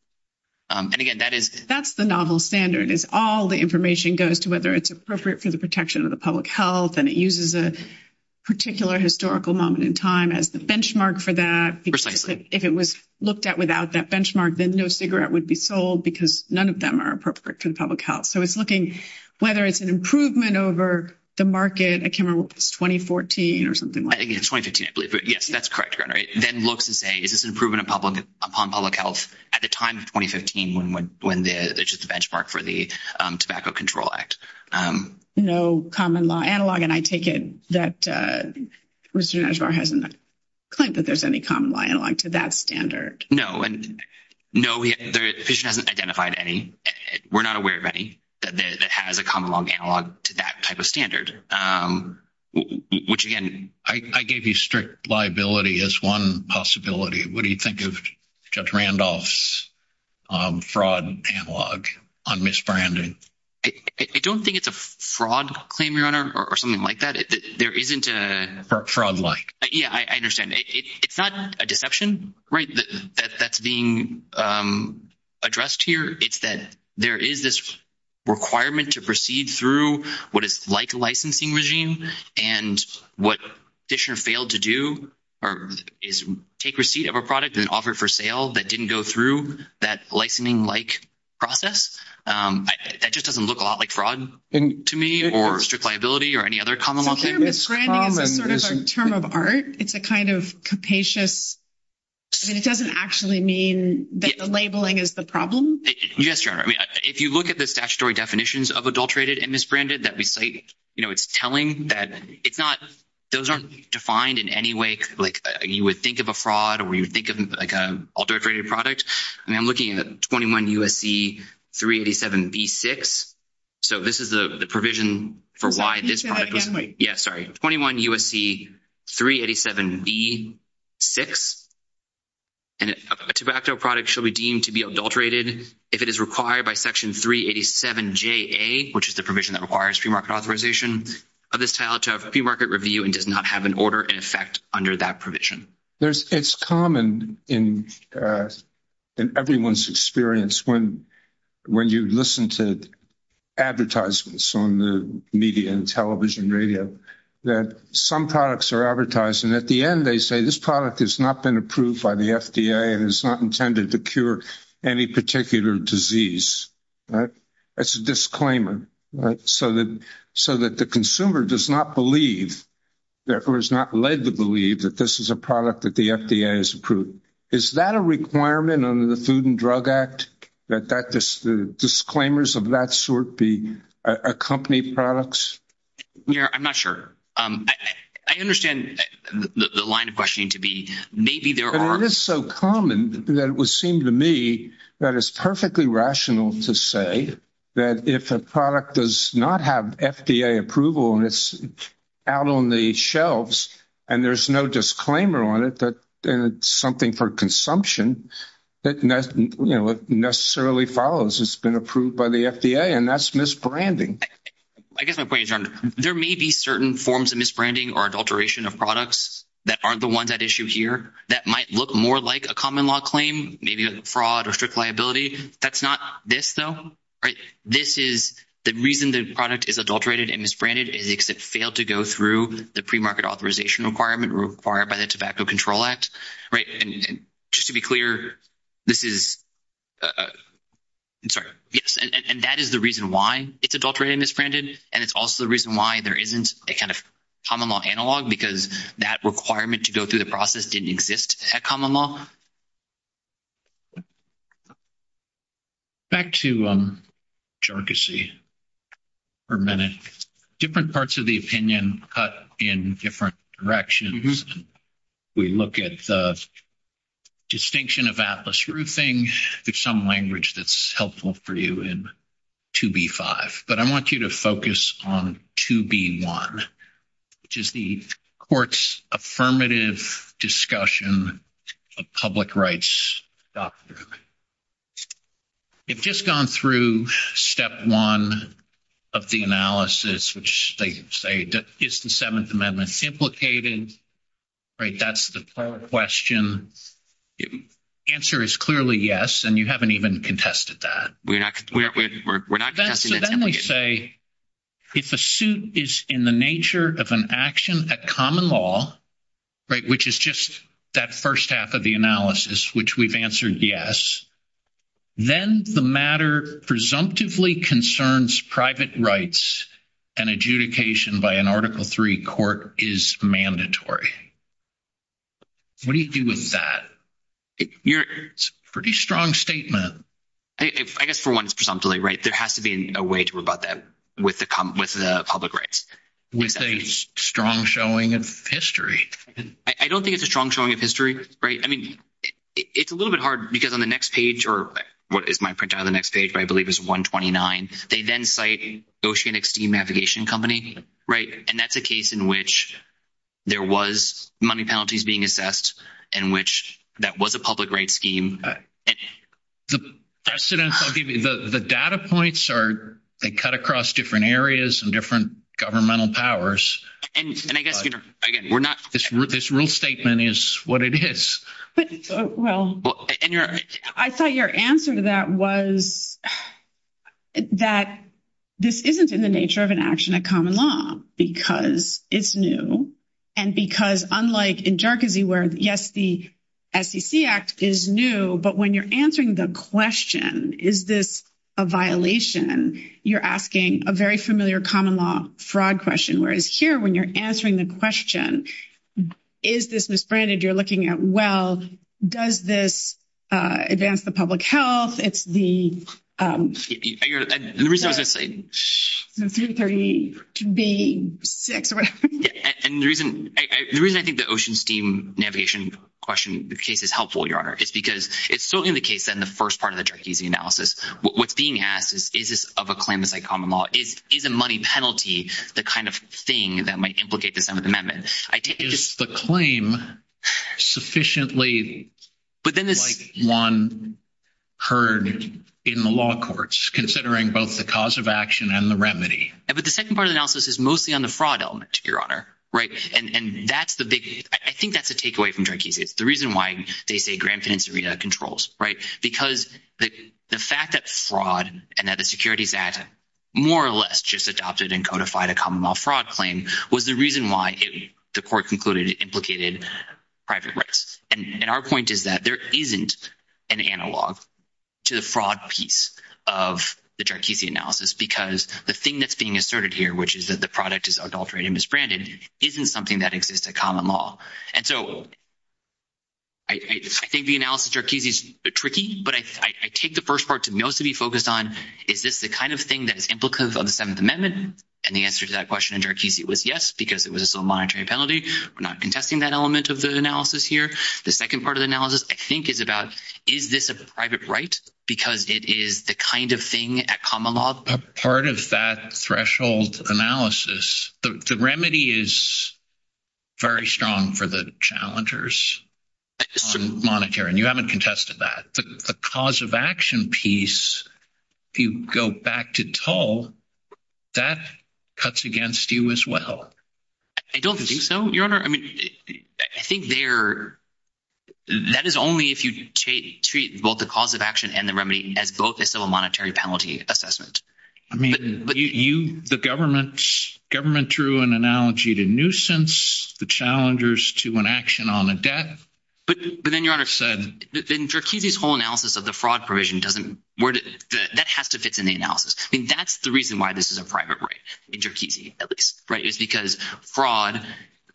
And again, that is- That's the novel standard. It's all the information goes to whether it's appropriate for the protection of the public health, and it uses a particular historical moment in time as the benchmark for that. Precisely. If it was looked at without that benchmark, then no cigarette would be sold because none of them are appropriate to the public health. So it's looking whether it's an improvement over the market. I can't remember if it was 2014 or something like that. I think it was 2015, I believe. But yes, that's correct, Karen, right? Then looks and says, is this an improvement upon public health at the time of 2015 when there's just a benchmark for the Tobacco Control Act? No common law analog, and I take it that Mr. Nashvar hasn't claimed that there's any common law analog to that standard. No. No, he hasn't identified any. We're not aware of any that has a common law analog to that type of standard, which again- I gave you strict liability as one possibility. What do you think of Judge Randolph's fraud analog on misbranding? I don't think it's a fraud claim, Your Honor, or something like that. There isn't a- Fraud-like. Yes, I understand. It's not a deception, right, that's being addressed here. It's that there is this requirement to proceed through what is like a licensing regime. And what Fisher failed to do is take receipt of a product and offer for sale that didn't go through that licensing-like process. That just doesn't look a lot like fraud to me, or strict liability, or any other common law thing. I think misbranding is sort of a term of art. It's a kind of capacious- I mean, it doesn't actually mean that the labeling is the problem. Yes, Your Honor. I mean, if you look at the statutory definitions of adulterated and misbranded that we cite, you know, it's telling that it's not- those aren't defined in any way like you would think of a fraud or you would think of like an adulterated product. I mean, I'm looking at 21 U.S.C. 387B-6. So, this is the provision for why this product was- Can you say that again, please? Yes, sorry. 21 U.S.C. 387B-6. And a tobacco product shall be deemed to be adulterated if it is required by Section 387JA, which is the provision that requires premarket authorization of this title to have premarket review and does not have an order in effect under that provision. There's- it's common in everyone's experience when you listen to advertisements on the media and television, radio, that some products are advertised and at the end they say, this product has not been approved by the FDA and is not intended to cure any particular disease. That's a disclaimer, right? So that the consumer does not believe or is not led to believe that this is a product that the FDA has approved. Is that a requirement under the Food and Drug Act, that the disclaimers of that sort be accompanied products? Yeah, I'm not sure. I understand the line of questioning to be maybe there are- But it is so common that it would seem to me that it's perfectly rational to say that if a product does not have FDA approval and it's out on the shelves and there's no disclaimer on it that it's something for consumption, it necessarily follows it's been approved by the FDA and that's misbranding. I guess my point is, there may be certain forms of misbranding or adulteration of products that are the ones at issue here that might look more like a common law claim, maybe a fraud or strict liability. That's not this though, right? This is the reason the product is adulterated and misbranded is because it failed to go through the premarket authorization requirement required by the Tobacco Control Act, right? And just to be clear, this is- I'm sorry. Yes, and that is the reason why it's adulterated and misbranded and it's also the reason why there isn't a kind of common law analog because that requirement to go through the process didn't exist at common law. Back to jargassy for a minute. Different parts of the opinion cut in different directions. We look at the distinction of Atlas Roofing. There's some language that's helpful for you in 2B5, but I want you to focus on 2B1, which is the court's affirmative discussion of public rights. We've just gone through step one of the analysis, which they say that is the Seventh Amendment implicated, right? That's the question. The answer is clearly yes, and you haven't even contested that. Then they say if a suit is in the nature of an action at common law, right, which is just that first half of the analysis, which we've answered yes, then the matter presumptively concerns private rights and adjudication by an Article III court is mandatory. What do you do with that? It's a pretty strong statement. I guess for one, it's presumptively, right? There has to be a way to rebut that with the public rights. With a strong showing of history. I don't think it's a strong showing of history, right? I mean, it's a little bit hard because on the next page or what is my printout of the next page, but I believe it's 129, they then cite Oceanic Steam Navigation Company, right? And that's a case in which there was money penalties being assessed in which that was a public rights scheme. The data points are cut across different areas and different governmental powers. This rule statement is what it is. I thought your answer to that was that this isn't in the nature of an action of common law because it's new and because unlike in Jerkesy where yes, the SEC Act is new, but when you're answering the question, is this a violation? You're asking a very familiar common law fraud question. Whereas here when you're answering the question, is this misbranded? You're looking at, well, does this advance the public health? The reason I think the Ocean Steam Navigation question, the case is helpful, Your Honor, is because it's certainly the case in the first part of the Jerkesy analysis. What's being asked is, is this of a claim that's like common law? Is the money penalty the kind of thing that might complicate the 7th Amendment? Is the claim sufficiently like one heard in the law courts considering both the cause of action and the remedy? The second part of the analysis is mostly on the fraud element, Your Honor. I think that's the takeaway from Jerkesy. The reason why they say Grand Financierita controls because the fact that fraud and that the securities act more or less just adopted and codified a the court concluded it implicated private risks. And our point is that there isn't an analog to the fraud piece of the Jerkesy analysis because the thing that's being asserted here, which is that the product is adulterated and misbranded, isn't something that exists at common law. And so I think the analysis of Jerkesy is tricky, but I take the first part to mostly be focused on, is this the kind of thing that is implicative of the 7th Amendment? And the answer to that question in Jerkesy was yes, because it was a monetary penalty. We're not contesting that element of the analysis here. The second part of the analysis, I think, is about is this a private right because it is the kind of thing at common law? Part of that threshold analysis, the remedy is very strong for the challengers on monetary, and you haven't contested that. The cause of action piece, if you go back to Tull, that cuts against you as well. I don't think so, Your Honor. I mean, I think that is only if you treat both the cause of action and the remedy as both a civil monetary penalty assessment. I mean, the government threw an analogy to nuisance, the challengers to an action on a debt. But then, Your Honor, then Jerkesy's whole analysis of the fraud provision doesn't... That has to fit in the analysis. I think that's the reason why this is a private right, in Jerkesy, at least, right? It's because fraud,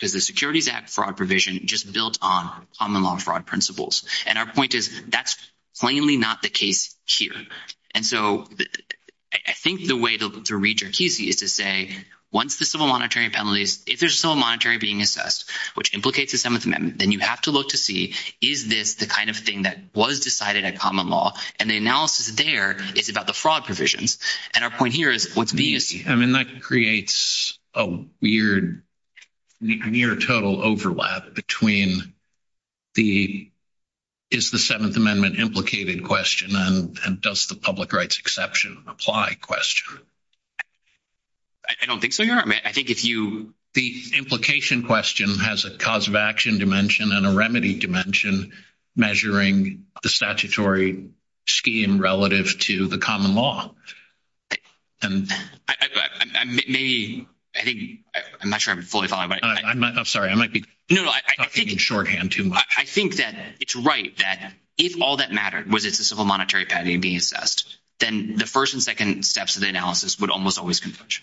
the Securities Act fraud provision, just built on common law fraud principles. And our point is that's plainly not the case here. And so I think the way to read Jerkesy is to say, once the civil monetary penalty, if there's still a monetary being assessed, which implicates the 7th Amendment, then you have to look to see, is this the kind of thing that was decided at common law? And the analysis there is about the fraud provisions. And our point here is... I mean, that creates a weird, near total overlap between the, is the 7th Amendment implicated question and does the public rights exception apply question? I don't think so, Your Honor. I think if you... The implication question has a cause of action dimension and a remedy dimension measuring the statutory scheme relative to the common law. And maybe, I think, I'm not sure I'm fully following, but... I'm sorry. I might be talking in shorthand too much. I think that it's right that if all that mattered was if the civil monetary penalty being assessed, then the first and second steps of the analysis would almost always be such.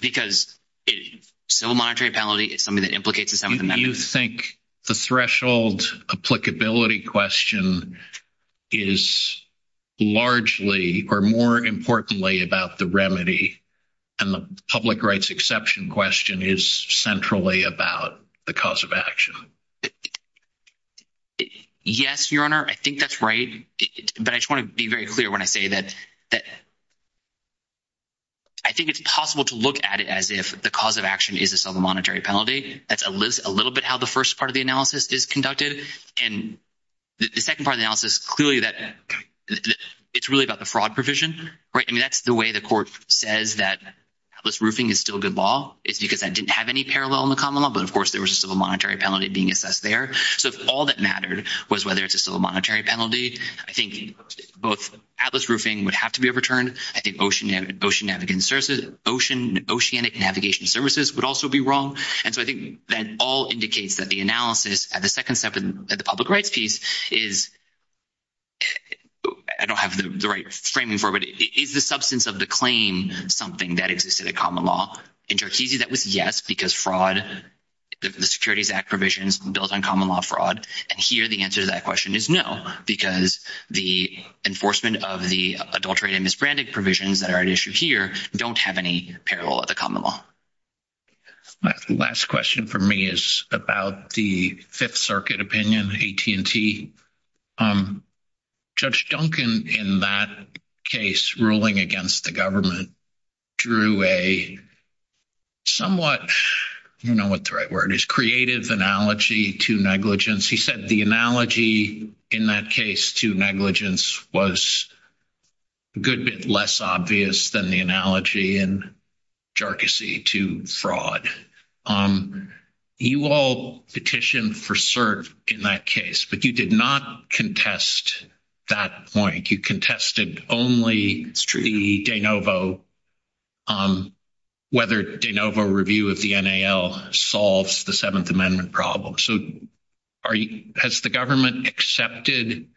Because if civil monetary penalty is something that implicates the 7th Amendment... You think the threshold applicability question is largely, or more importantly, about the remedy and the public rights exception question is centrally about the cause of action? Yes, Your Honor. I think that's right. But I just want to be very clear when I say that I think it's possible to look at it as if the cause of action is a civil monetary penalty. That's a little bit how the first part of the analysis is conducted. And the second part of the analysis, clearly, it's really about the fraud provision, right? I mean, that's the way the court says that Atlas Roofing is still good law. It's because that didn't have any parallel in the common law, but, of course, there was a civil monetary penalty being assessed there. So if all that mattered was whether it's a civil monetary penalty, I think both Atlas Roofing would have to be overturned. I think ocean navigation services would also be wrong. And so I think that all indicates that the analysis at the second step in the public rights piece is... I don't have the right framing for it, but is the substance of the claim something that exists in the common law? In Cherkessia, that was yes, because fraud, the Securities Act provisions built on common law fraud. And here, the answer to that question is no, because the enforcement of the adulterated and misbranded provisions that are at issue here don't have any parallel at the common law. Last question for me is about the Fifth Circuit opinion, AT&T. Judge Duncan, in that case, ruling against the government, drew a somewhat... I don't know what the right word is, creative analogy to negligence. He said the analogy in that case to negligence was a good bit less obvious than the analogy in Cherkessia to fraud. You all petitioned for cert in that case, but you did not contest that point. You contested only the de novo, on whether de novo review of the NAL solves the Seventh Amendment problem. So, has the government accepted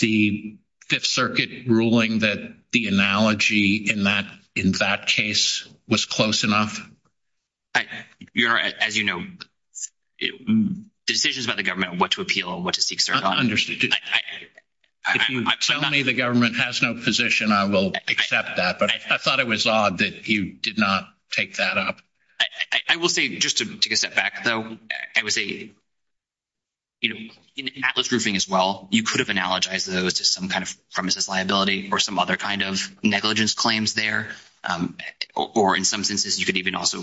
the Fifth Circuit ruling that the analogy in that case was close enough? As you know, decisions about the government, what to appeal, what to seek cert on. Understood. If you tell me the government has no position, I will accept that. But I thought it was odd that you did not take that up. I will say, just to get that back, though, I would say, you know, in Atlas Roofing as well, you could have analogized those to some kind of premises liability or some other kind of negligence claims there. Or in some instances, you could even also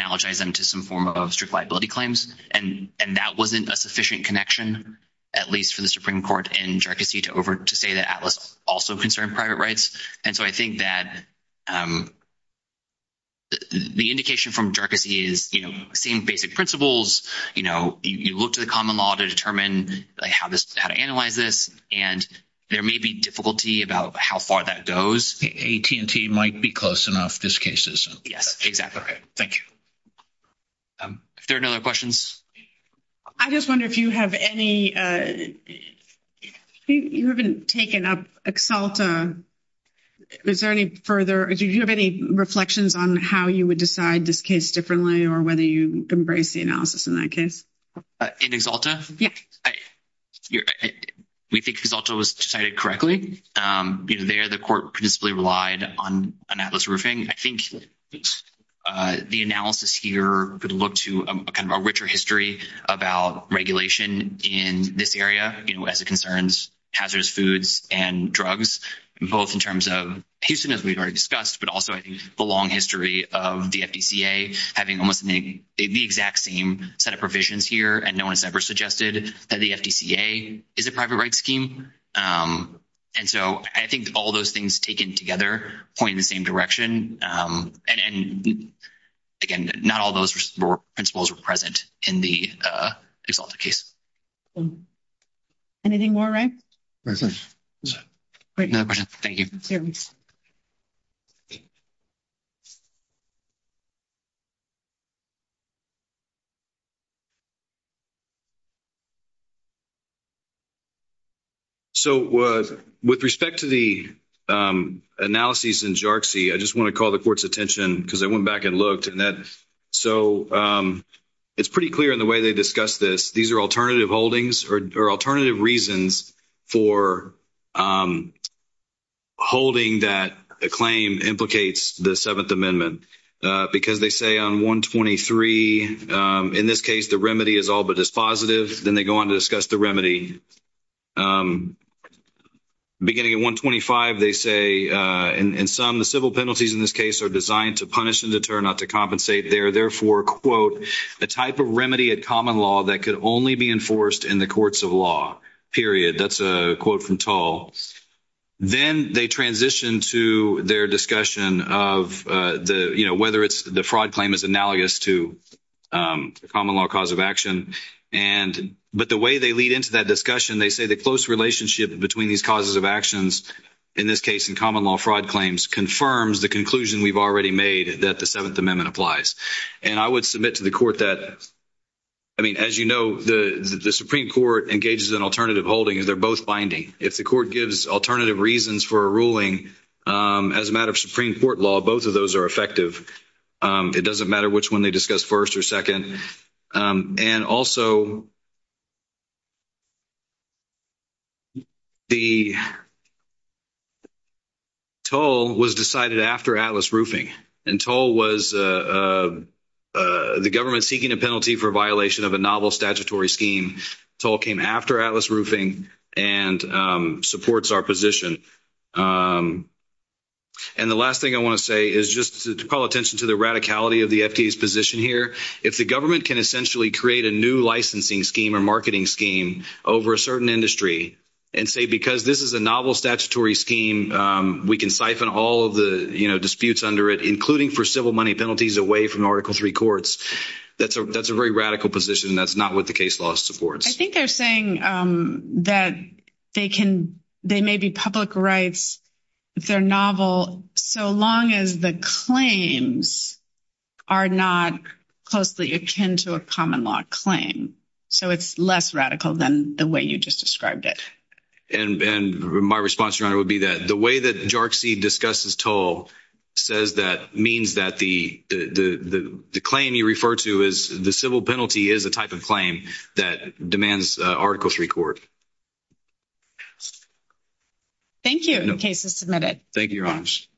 analogize them to some form of strict liability claims. And that was not a sufficient connection, at least for the Supreme Court in Cherkessia to say that Atlas also concerned private rights. And so, I think that the indication from Cherkessia is, you know, same basic principles. You know, you look to the common law to determine how to analyze this. And there may be difficulty about how far that goes. AT&T might be close enough. This case isn't. Yes, exactly. Okay. Thank you. If there are no other questions. I just wonder if you have any, you haven't taken up Exalta. Is there any further, do you have any reflections on how you would decide this case differently or whether you embrace the analysis in that case? In Exalta? Yes. We think Exalta was decided correctly. There, the court principally relied on an Atlas roofing. I think the analysis here could look to a kind of a richer history about regulation in this area as it concerns hazardous foods and drugs, both in terms of Houston, as we've already discussed, but also, I think the long history of the FDCA having almost the exact same set of provisions here. And no one has ever suggested that the FDCA is a private right scheme. And so I think all those things taken together point in the same direction. And again, not all those principles are present in the Exalta case. Anything more, Ryan? No questions. Thank you. So, with respect to the analysis in Xerces, I just want to call the court's attention because I went back and looked and that, so it's pretty clear in the way they discussed this. These are alternative holdings or alternative reasons for holding that a claim implicates the Seventh they go on to discuss the remedy. Beginning at 125, they say, in sum, the civil penalties in this case are designed to punish and deter, not to compensate. They are therefore, quote, a type of remedy at common law that could only be enforced in the courts of law, period. That's a quote from Tull. Then they transition to their discussion of the, you know, but the way they lead into that discussion, they say the close relationship between these causes of actions, in this case in common law fraud claims, confirms the conclusion we've already made that the Seventh Amendment applies. And I would submit to the court that, I mean, as you know, the Supreme Court engages in alternative holding and they're both binding. If the court gives alternative reasons for a ruling as a matter of Supreme Court law, both of those are effective. It doesn't matter which one they discuss first or second. And also, the Tull was decided after Atlas Roofing. And Tull was the government seeking a penalty for violation of a novel statutory scheme. Tull came after Atlas Roofing and supports our position. And the last thing I want to say is just to call attention to the radicality of the FTA's position here. If the government can essentially create a new licensing scheme or marketing scheme over a certain industry and say, because this is a novel statutory scheme, we can siphon all of the, you know, disputes under it, including for civil money penalties away from Article III courts, that's a very radical position. That's not what the case law supports. I think they're saying that they can, they may be public rights, they're novel, so long as the claims are not closely akin to a common law claim. So it's less radical than the way you just described it. And my response to that would be that the way that JRC discussed as Tull says that means that the claim you refer to as the civil penalty is the type of claim that demands Article III court. Thank you. In case of submitted. Thank you very much.